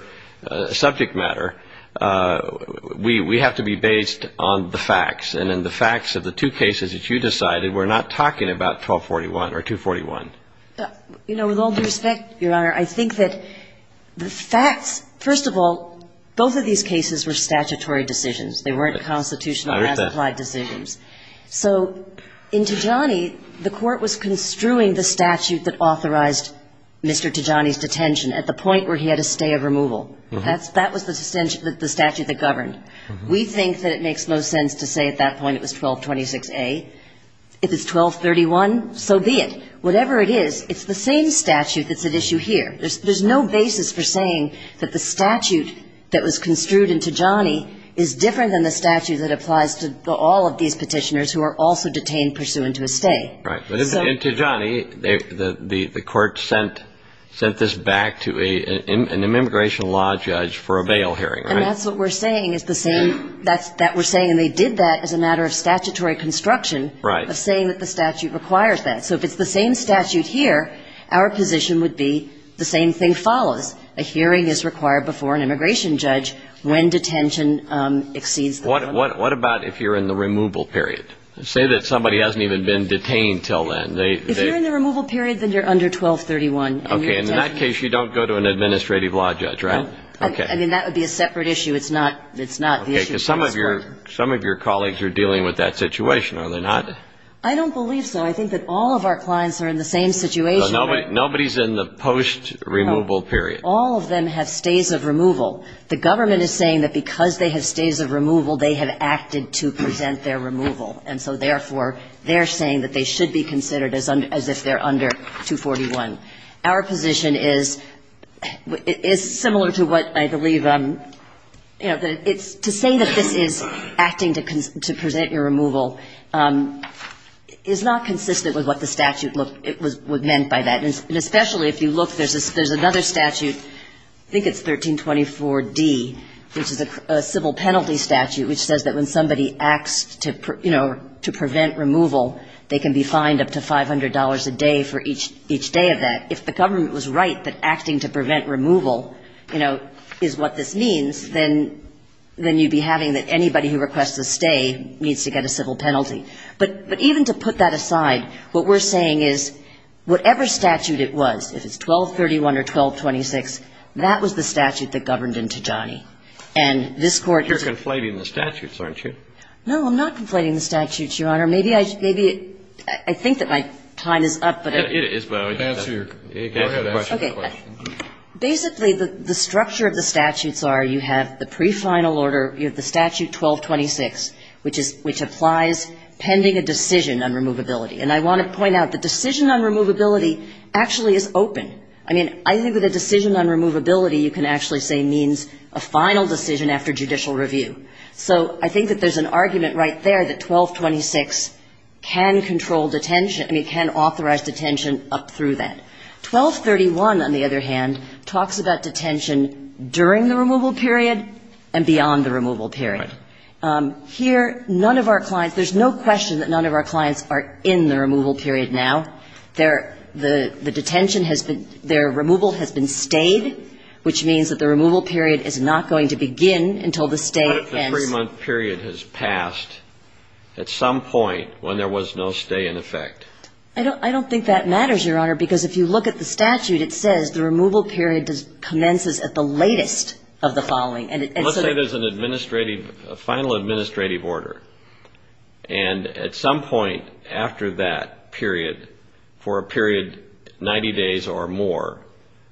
subject matter. We have to be based on the facts. And in the facts of the two cases that you decided, we're not talking about 1241 or 241. You know, with all due respect, Your Honor, I think that the facts... First of all, both of these cases were statutory decisions. They weren't constitutional... I understand. decisions. So in Tijani, the Court was construing the statute that authorized Mr. Tijani's detention at the point where he had a stay of removal. That was the statute that governed. We think that it makes no sense to say at that point it was 1226A. If it's 1231, so be it. Whatever it is, it's the same statute that's at issue here. There's no basis for saying that the statute that was construed in Tijani is different than the statute that applies to all of these petitioners who are also detained pursuant to a stay. In Tijani, the Court sent this back to an immigration law judge for a bail hearing, right? And that's what we're saying. We're saying they did that as a matter of statutory construction of saying that the statute requires that. So if it's the same statute here, our position would be the same thing follows. A hearing is required before an immigration judge when detention exceeds 1231. What about if you're in the removal period? Say that somebody hasn't even been detained until then. If you're in the removal period, then you're under 1231. In that case, you don't go to an administrative law judge, right? That would be a separate issue. Some of your colleagues are dealing with that situation, are they not? I don't believe so. I think that all of our clients are in the same situation. Nobody's in the post-removal period. All of them have stays of removal. They have acted to present their removal. And so therefore, they're saying that they should be considered as if they're under 241. Our position is similar to what I believe to say that this is acting to present your removal is not consistent with what the statute meant by that. And especially if you look, there's another statute, I think it's 1324D, which is a civil penalty statute which says that when somebody acts to prevent removal, they can be fined up to $500 a day for each day of that. If the government was right that acting to prevent removal is what this means, then you'd be having that anybody who requests a stay needs to get a civil penalty. But even to put that aside, what we're saying is, whatever statute it was, if it's 1231 or 1226, that was the statute that governed into Johnny. And this Court... You're conflating the statutes, aren't you? No, I'm not conflating the statutes, Your Honor. Maybe I think that my time is up, but... It is, but answer your question. Okay. Basically, the structure of the statutes are, you have the pre-final order, you have the statute 1226, which applies pending a decision on removability. And I want to point out, the decision on removability actually is open. I mean, I think that the decision on removability you can actually say means a final decision after judicial review. So, I think that there's an argument right there that 1226 can control detention, I mean, can authorize detention up through that. 1231, on the other hand, talks about detention during the removal period and beyond the removal period. Here, none of our clients... There's no question that none of our clients are in the removal period now. Their removal has been stayed, which means that the removal period is not going to begin until the stay ends. What if the three-month period has passed at some point when there was no stay in effect? I don't think that matters, Your Honor, because if you look at the statute, it says the removal period commences at the latest of the following. Let's say there's a final administrative order and at some point after that period, for a period 90 days or more,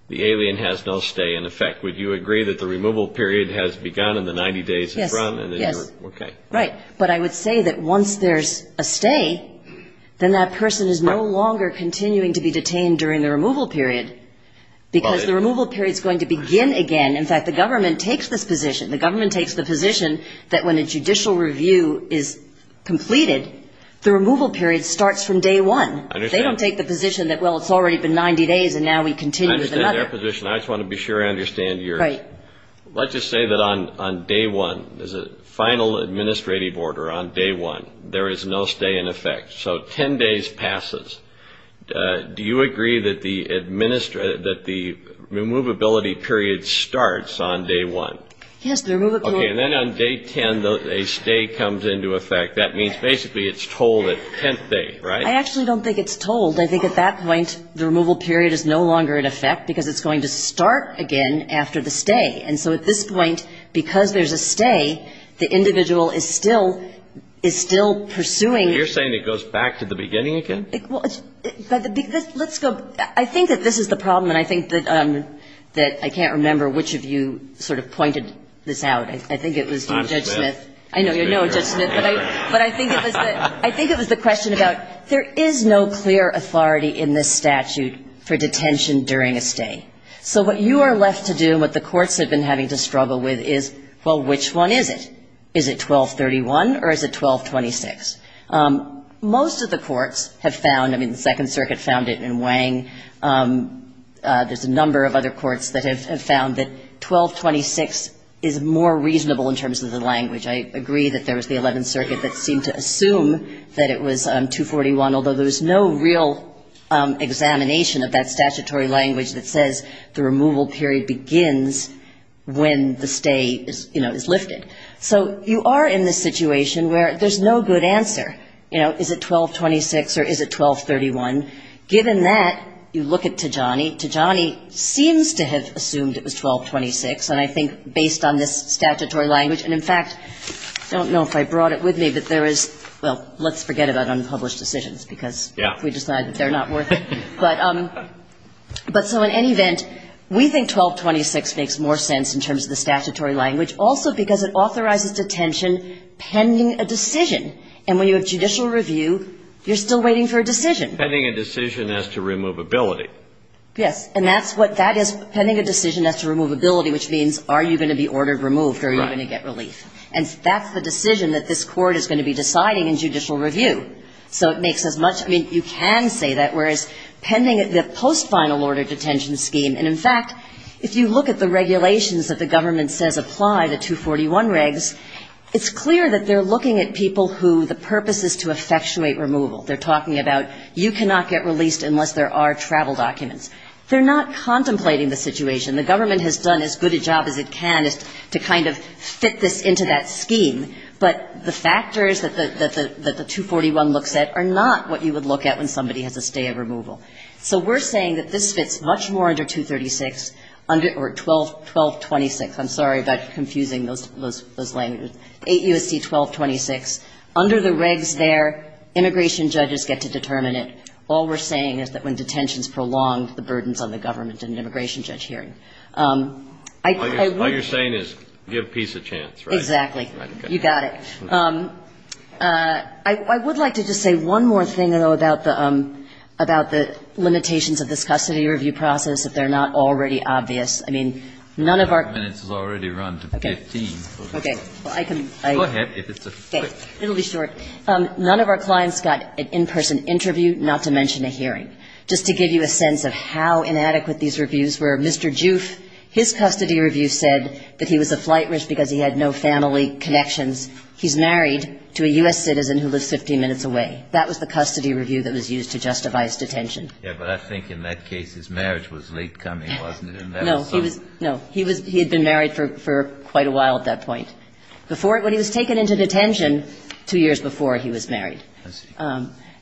the alien has no stay in effect. Would you agree that the removal period has begun in the 90 days in front? Yes. Right, but I would say that once there's a stay, then that person is no longer continuing to be detained during the removal period because the removal period is going to begin again. In fact, the government takes this position. The government takes the position that when a judicial review is completed, the removal period starts from day one. They don't take the position that, well, it's already been 90 days and now we continue with another. I just want to be sure I understand, Your Honor. Let's just say that on day one, there's a final administrative order on day one. There is no stay in effect. So 10 days passes. Do you agree that the removability period starts on day one? Yes. And then on day 10, a stay comes into effect. That means basically it's told at 10th day, right? I actually don't think it's told. I think at that point, the removal period is no longer in effect because it's going to start again after the stay. So at this point, because there's a stay, the individual is still pursuing... You're saying it goes back to the beginning again? I think that this is the problem. I can't remember which of you pointed this out. I think it was Judge Smith. I know. But I think it was the question about there is no clear authority in this statute for detention during a stay. So what you are left to do, what the courts have been having to struggle with is, well, which one is it? Is it 1231 or is it 1226? Most of the courts have found, I mean, the Second Circuit found it in Wang. There's a number of other courts that have found that 1226 is more reasonable in terms of the language. I agree that there was the Eleventh Circuit that seemed to assume that it was 241, although there was no real examination of that statutory language that says the removal period begins when the stay is lifted. So you are in this situation where there's no good answer. Is it 1226 or is it 1231? Given that, you look at Tijani. Tijani seems to have assumed it was 1226, and I think based on this statutory language, and in fact, I don't know if I brought it with me, but there is, well, let's forget about unpublished decisions because we decide that they're not worth it. But so in any event, we think 1226 makes more sense in terms of the statutory language also because it authorizes detention pending a decision. And when you have judicial review, you're still waiting for a decision. Pending a decision as to removability. Yes, and that's what that is, pending a decision as to removability, which means are you going to be ordered removed? Are you going to get released? And that's the decision that this Court is going to be deciding in judicial review. So it makes as much, I mean, you can say that, whereas pending a post-final order detention scheme, and in fact, if you look at the regulations that the government says apply, the 241 regs, it's clear that they're looking at people who the purpose is to you cannot get released unless there are travel documents. They're not contemplating the situation. The government has done as good a job as it can to kind of fit this into that scheme, but the factors that the 241 looks at are not what you would look at when somebody has a stay of removal. So we're saying that this fits much more under 236, or 1226. I'm sorry about confusing those languages. 8 U.S.C. 1226. Under the regs there, immigration judges get to determine it. All we're saying is that when detentions prolongs the burdens on the government in an immigration judge hearing. All you're saying is give peace a chance, right? Exactly. You got it. I would like to just say one more thing, though, about the limitations of this custody review process, if they're not already obvious. I mean, none of our... It's already run to 15. Go ahead. It'll be short. None of our clients got an in-person interview, not to mention a hearing. Just to give you a sense of how inadequate these reviews were, Mr. Joof, his custody review said that he was a flight risk because he had no family connections. He's married to a U.S. citizen who lives 15 minutes away. That was the custody review that was used to justify his detention. Yeah, but I think in that case his marriage was late coming, wasn't it? No. He had been married for quite a while at that point. Before, when he was taken into detention, two years before he was married.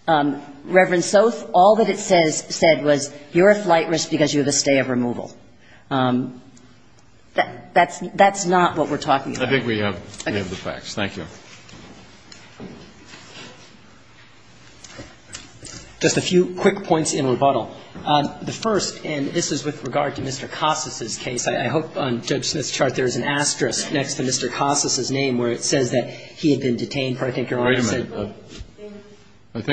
Reverend Soth, all that it said was you're a flight risk because you have a stay of removal. That's not what we're talking about. I think we have the facts. Thank you. Just a few quick points in rebuttal. The first, and this is with regard to Mr. Costas' case, I hope on the record, I think it was Mr. Costas' name where it says that he had been detained for, I think, 11 months. Why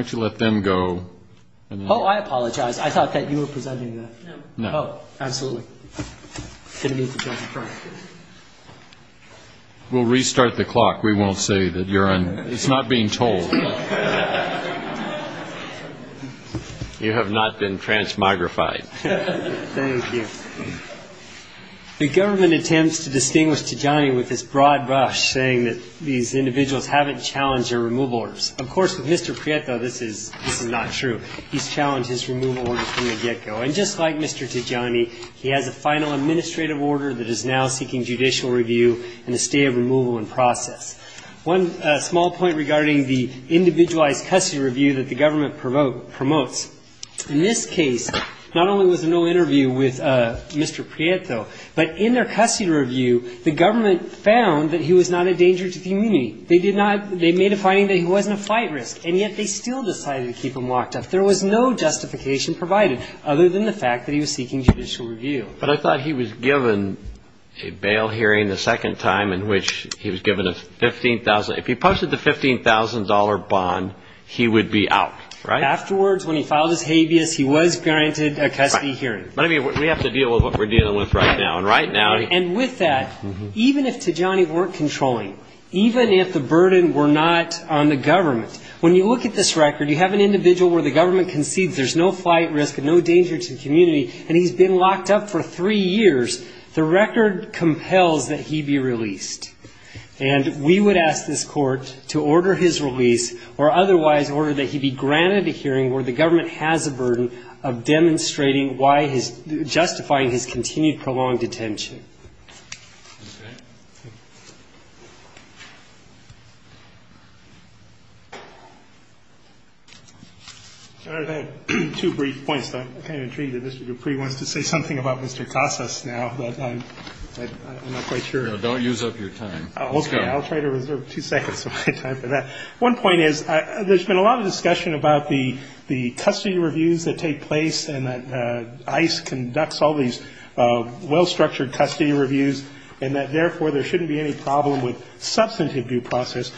don't you let them go. Oh, I apologize. I thought that you were presenting that. No. Absolutely. We'll restart the clock. We won't say that you're on. It's not being told. You have not been transmogrified. Thank you. The government intends to distinguish Tijani with this broad brush, saying that these individuals haven't challenged their removal orders. Of course, with Mr. Prieto, this is not true. He's challenged his removal order from the get-go. And just like Mr. Tijani, he has a final administrative order that is now seeking judicial process. One small point regarding the individualized custody review that the government promotes. In this case, not only was there no interview with Mr. Prieto, but in their custody review, the government found that he was not a danger to the community. They made a finding that he wasn't a fight risk, and yet they still decided to keep him locked up. There was no justification provided, other than the fact that he was seeking judicial review. But I thought he was given a bail hearing the second time in which he was given a $15,000 if he posted the $15,000 bond, he would be out. Afterwards, when he filed his habeas, he was granted a custody hearing. We have to deal with what we're dealing with right now. And with that, even if Tijani weren't controlling, even if the burden were not on the government, when you look at this record, you have an individual where the government concedes there's no fight risk and no danger to the community, and he's been locked up for three years, the record compels that he be released. And we would ask this otherwise in order that he be granted a hearing where the government has a burden of demonstrating why he's justified his continued prolonged detention. I have two brief points. I'm kind of intrigued that Mr. Dupuis wants to say something about Mr. Casas now, but I'm not quite sure. Don't use up your time. Okay, I'll try to reserve two seconds of my time for that. One point is there's been a lot of discussion about the custody reviews that take place and that ICE conducts all these well-structured custody reviews, and that therefore there shouldn't be any problem with substantive due process.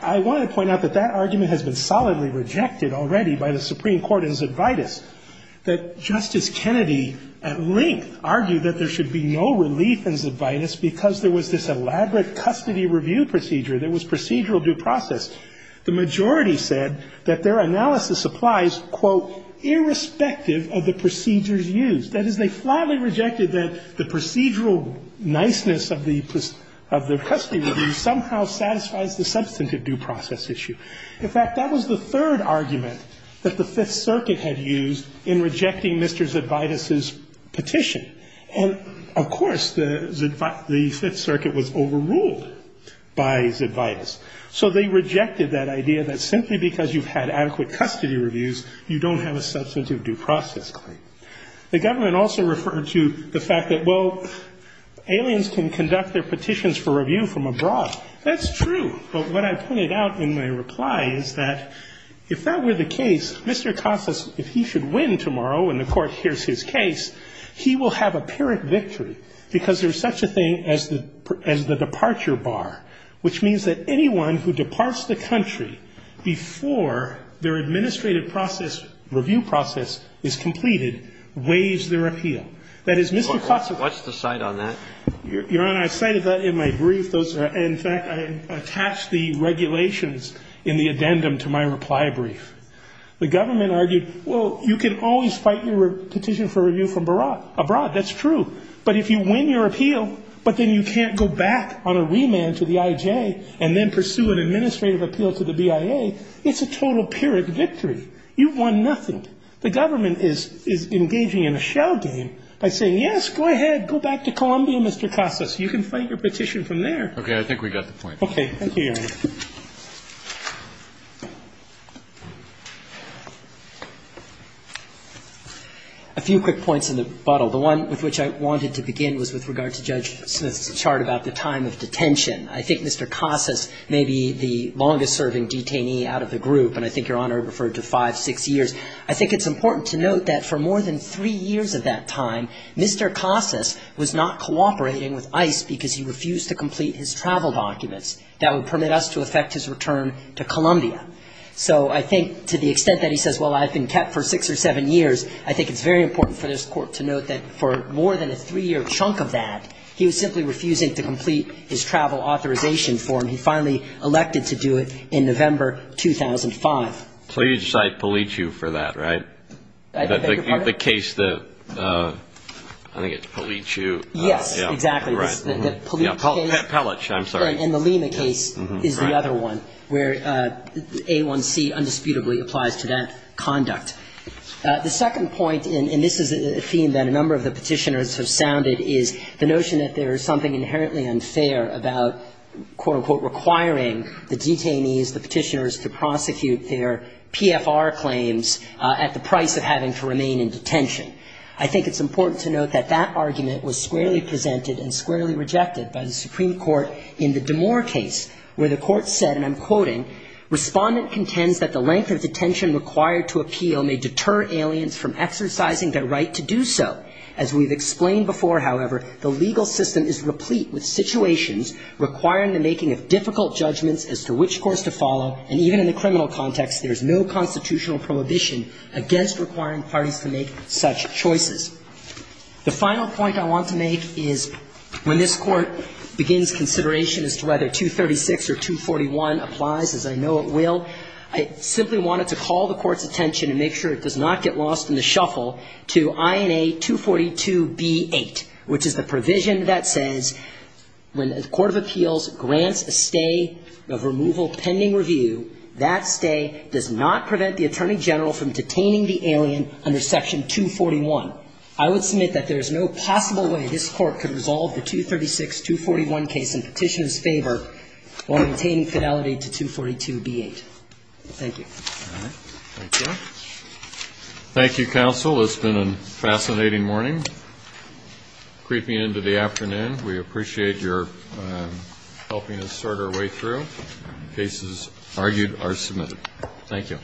I want to point out that that argument has been solidly rejected already by the Supreme Court in Zebaitis, that Justice Kennedy at length argued that there should be no relief in Zebaitis because there was this elaborate custody review procedure that was procedural due process. The majority said that their analysis applies quote, irrespective of the procedures used. That is, they flatly rejected that the procedural niceness of the custody review somehow satisfies the substantive due process issue. In fact, that was the third argument that the Fifth Circuit had used in rejecting Mr. Zebaitis' petition. And of course, the Fifth Circuit was overruled by Zebaitis. So they rejected that idea that simply because you've had adequate custody reviews, you don't have a substantive due process claim. The government also referred to the fact that, well, aliens can conduct their petitions for review from abroad. That's true. But what I pointed out in my reply is that if that were the case, Mr. Casas, if he should win tomorrow when the court hears his case, he will have apparent victory because there's such a thing as the departure bar, which means that anyone who departs the country before their administrative process, review process, is completed weighs their appeal. That is, Mr. Casas... What's the cite on that? Your Honor, I cited that in my brief. In fact, I attached the regulations in the addendum to my reply brief. The government argued, well, you can always fight your petition for review from abroad, but if you win your appeal, but then you can't go back on a remand to the IJ and then pursue an administrative appeal to the BIA, it's a total period of victory. You've won nothing. The government is engaging in a showdown by saying, yes, go ahead, go back to Colombia, Mr. Casas. You can fight your petition from there. Okay, I think we got the point. Okay, thank you, Your Honor. A few quick points in the bottle. The one with which I wanted to begin was with regard to Judge Smith's chart about the time of detention. I think Mr. Casas may be the longest-serving detainee out of the group, and I think Your Honor referred to five, six years. I think it's important to note that for more than three years at that time, Mr. Casas was not cooperating with ICE because he refused to complete his travel documents. That would permit us to have a So I think to the extent that he says, well, I've been kept for six or seven years, I think it's very important for this Court to note that for more than a three-year chunk of that, he was simply refusing to complete his travel authorization form. He finally elected to do it in November 2005. So you cite Palichew for that, right? The case that... I think it's Palichew. Yes, exactly. Palichew, I'm sorry. And the Lima case is the name of the case. And that's the other one where A1C undisputably applies to that conduct. The second point, and this is a theme that a number of the petitioners have sounded, is the notion that there is something inherently unfair about quote-unquote requiring the detainees, the petitioners, to prosecute their PFR claims at the price of having to remain in detention. I think it's important to note that that argument was squarely presented and squarely rejected by the Supreme Court in the Damore case, where the court said, and I'm quoting, Respondent contends that the length of detention required to appeal may deter aliens from exercising their right to do so. As we've explained before, however, the legal system is replete with situations requiring the making of difficult judgments as to which course to follow, and even in the criminal context, there's no constitutional prohibition against requiring parties to make such choices. The final point I want to make is when this court begins consideration as to whether 236 or 241 applies, as I know it will, I simply wanted to call the court's attention and make sure it does not get lost in the shuffle to INA 242B8, which is the provision that says when the Court of Appeals grants a stay of removal pending review, that stay does not prevent the Attorney General from detaining the alien under Section 241. I would submit that there's no possible way this court can resolve the 236-241 case in Petitioner's favor while maintaining fidelity to 242B8. Thank you. Thank you. Thank you, Counsel. It's been a fascinating morning, creeping into the afternoon. We appreciate your helping us sort our way through. Cases argued are submitted. Thank you.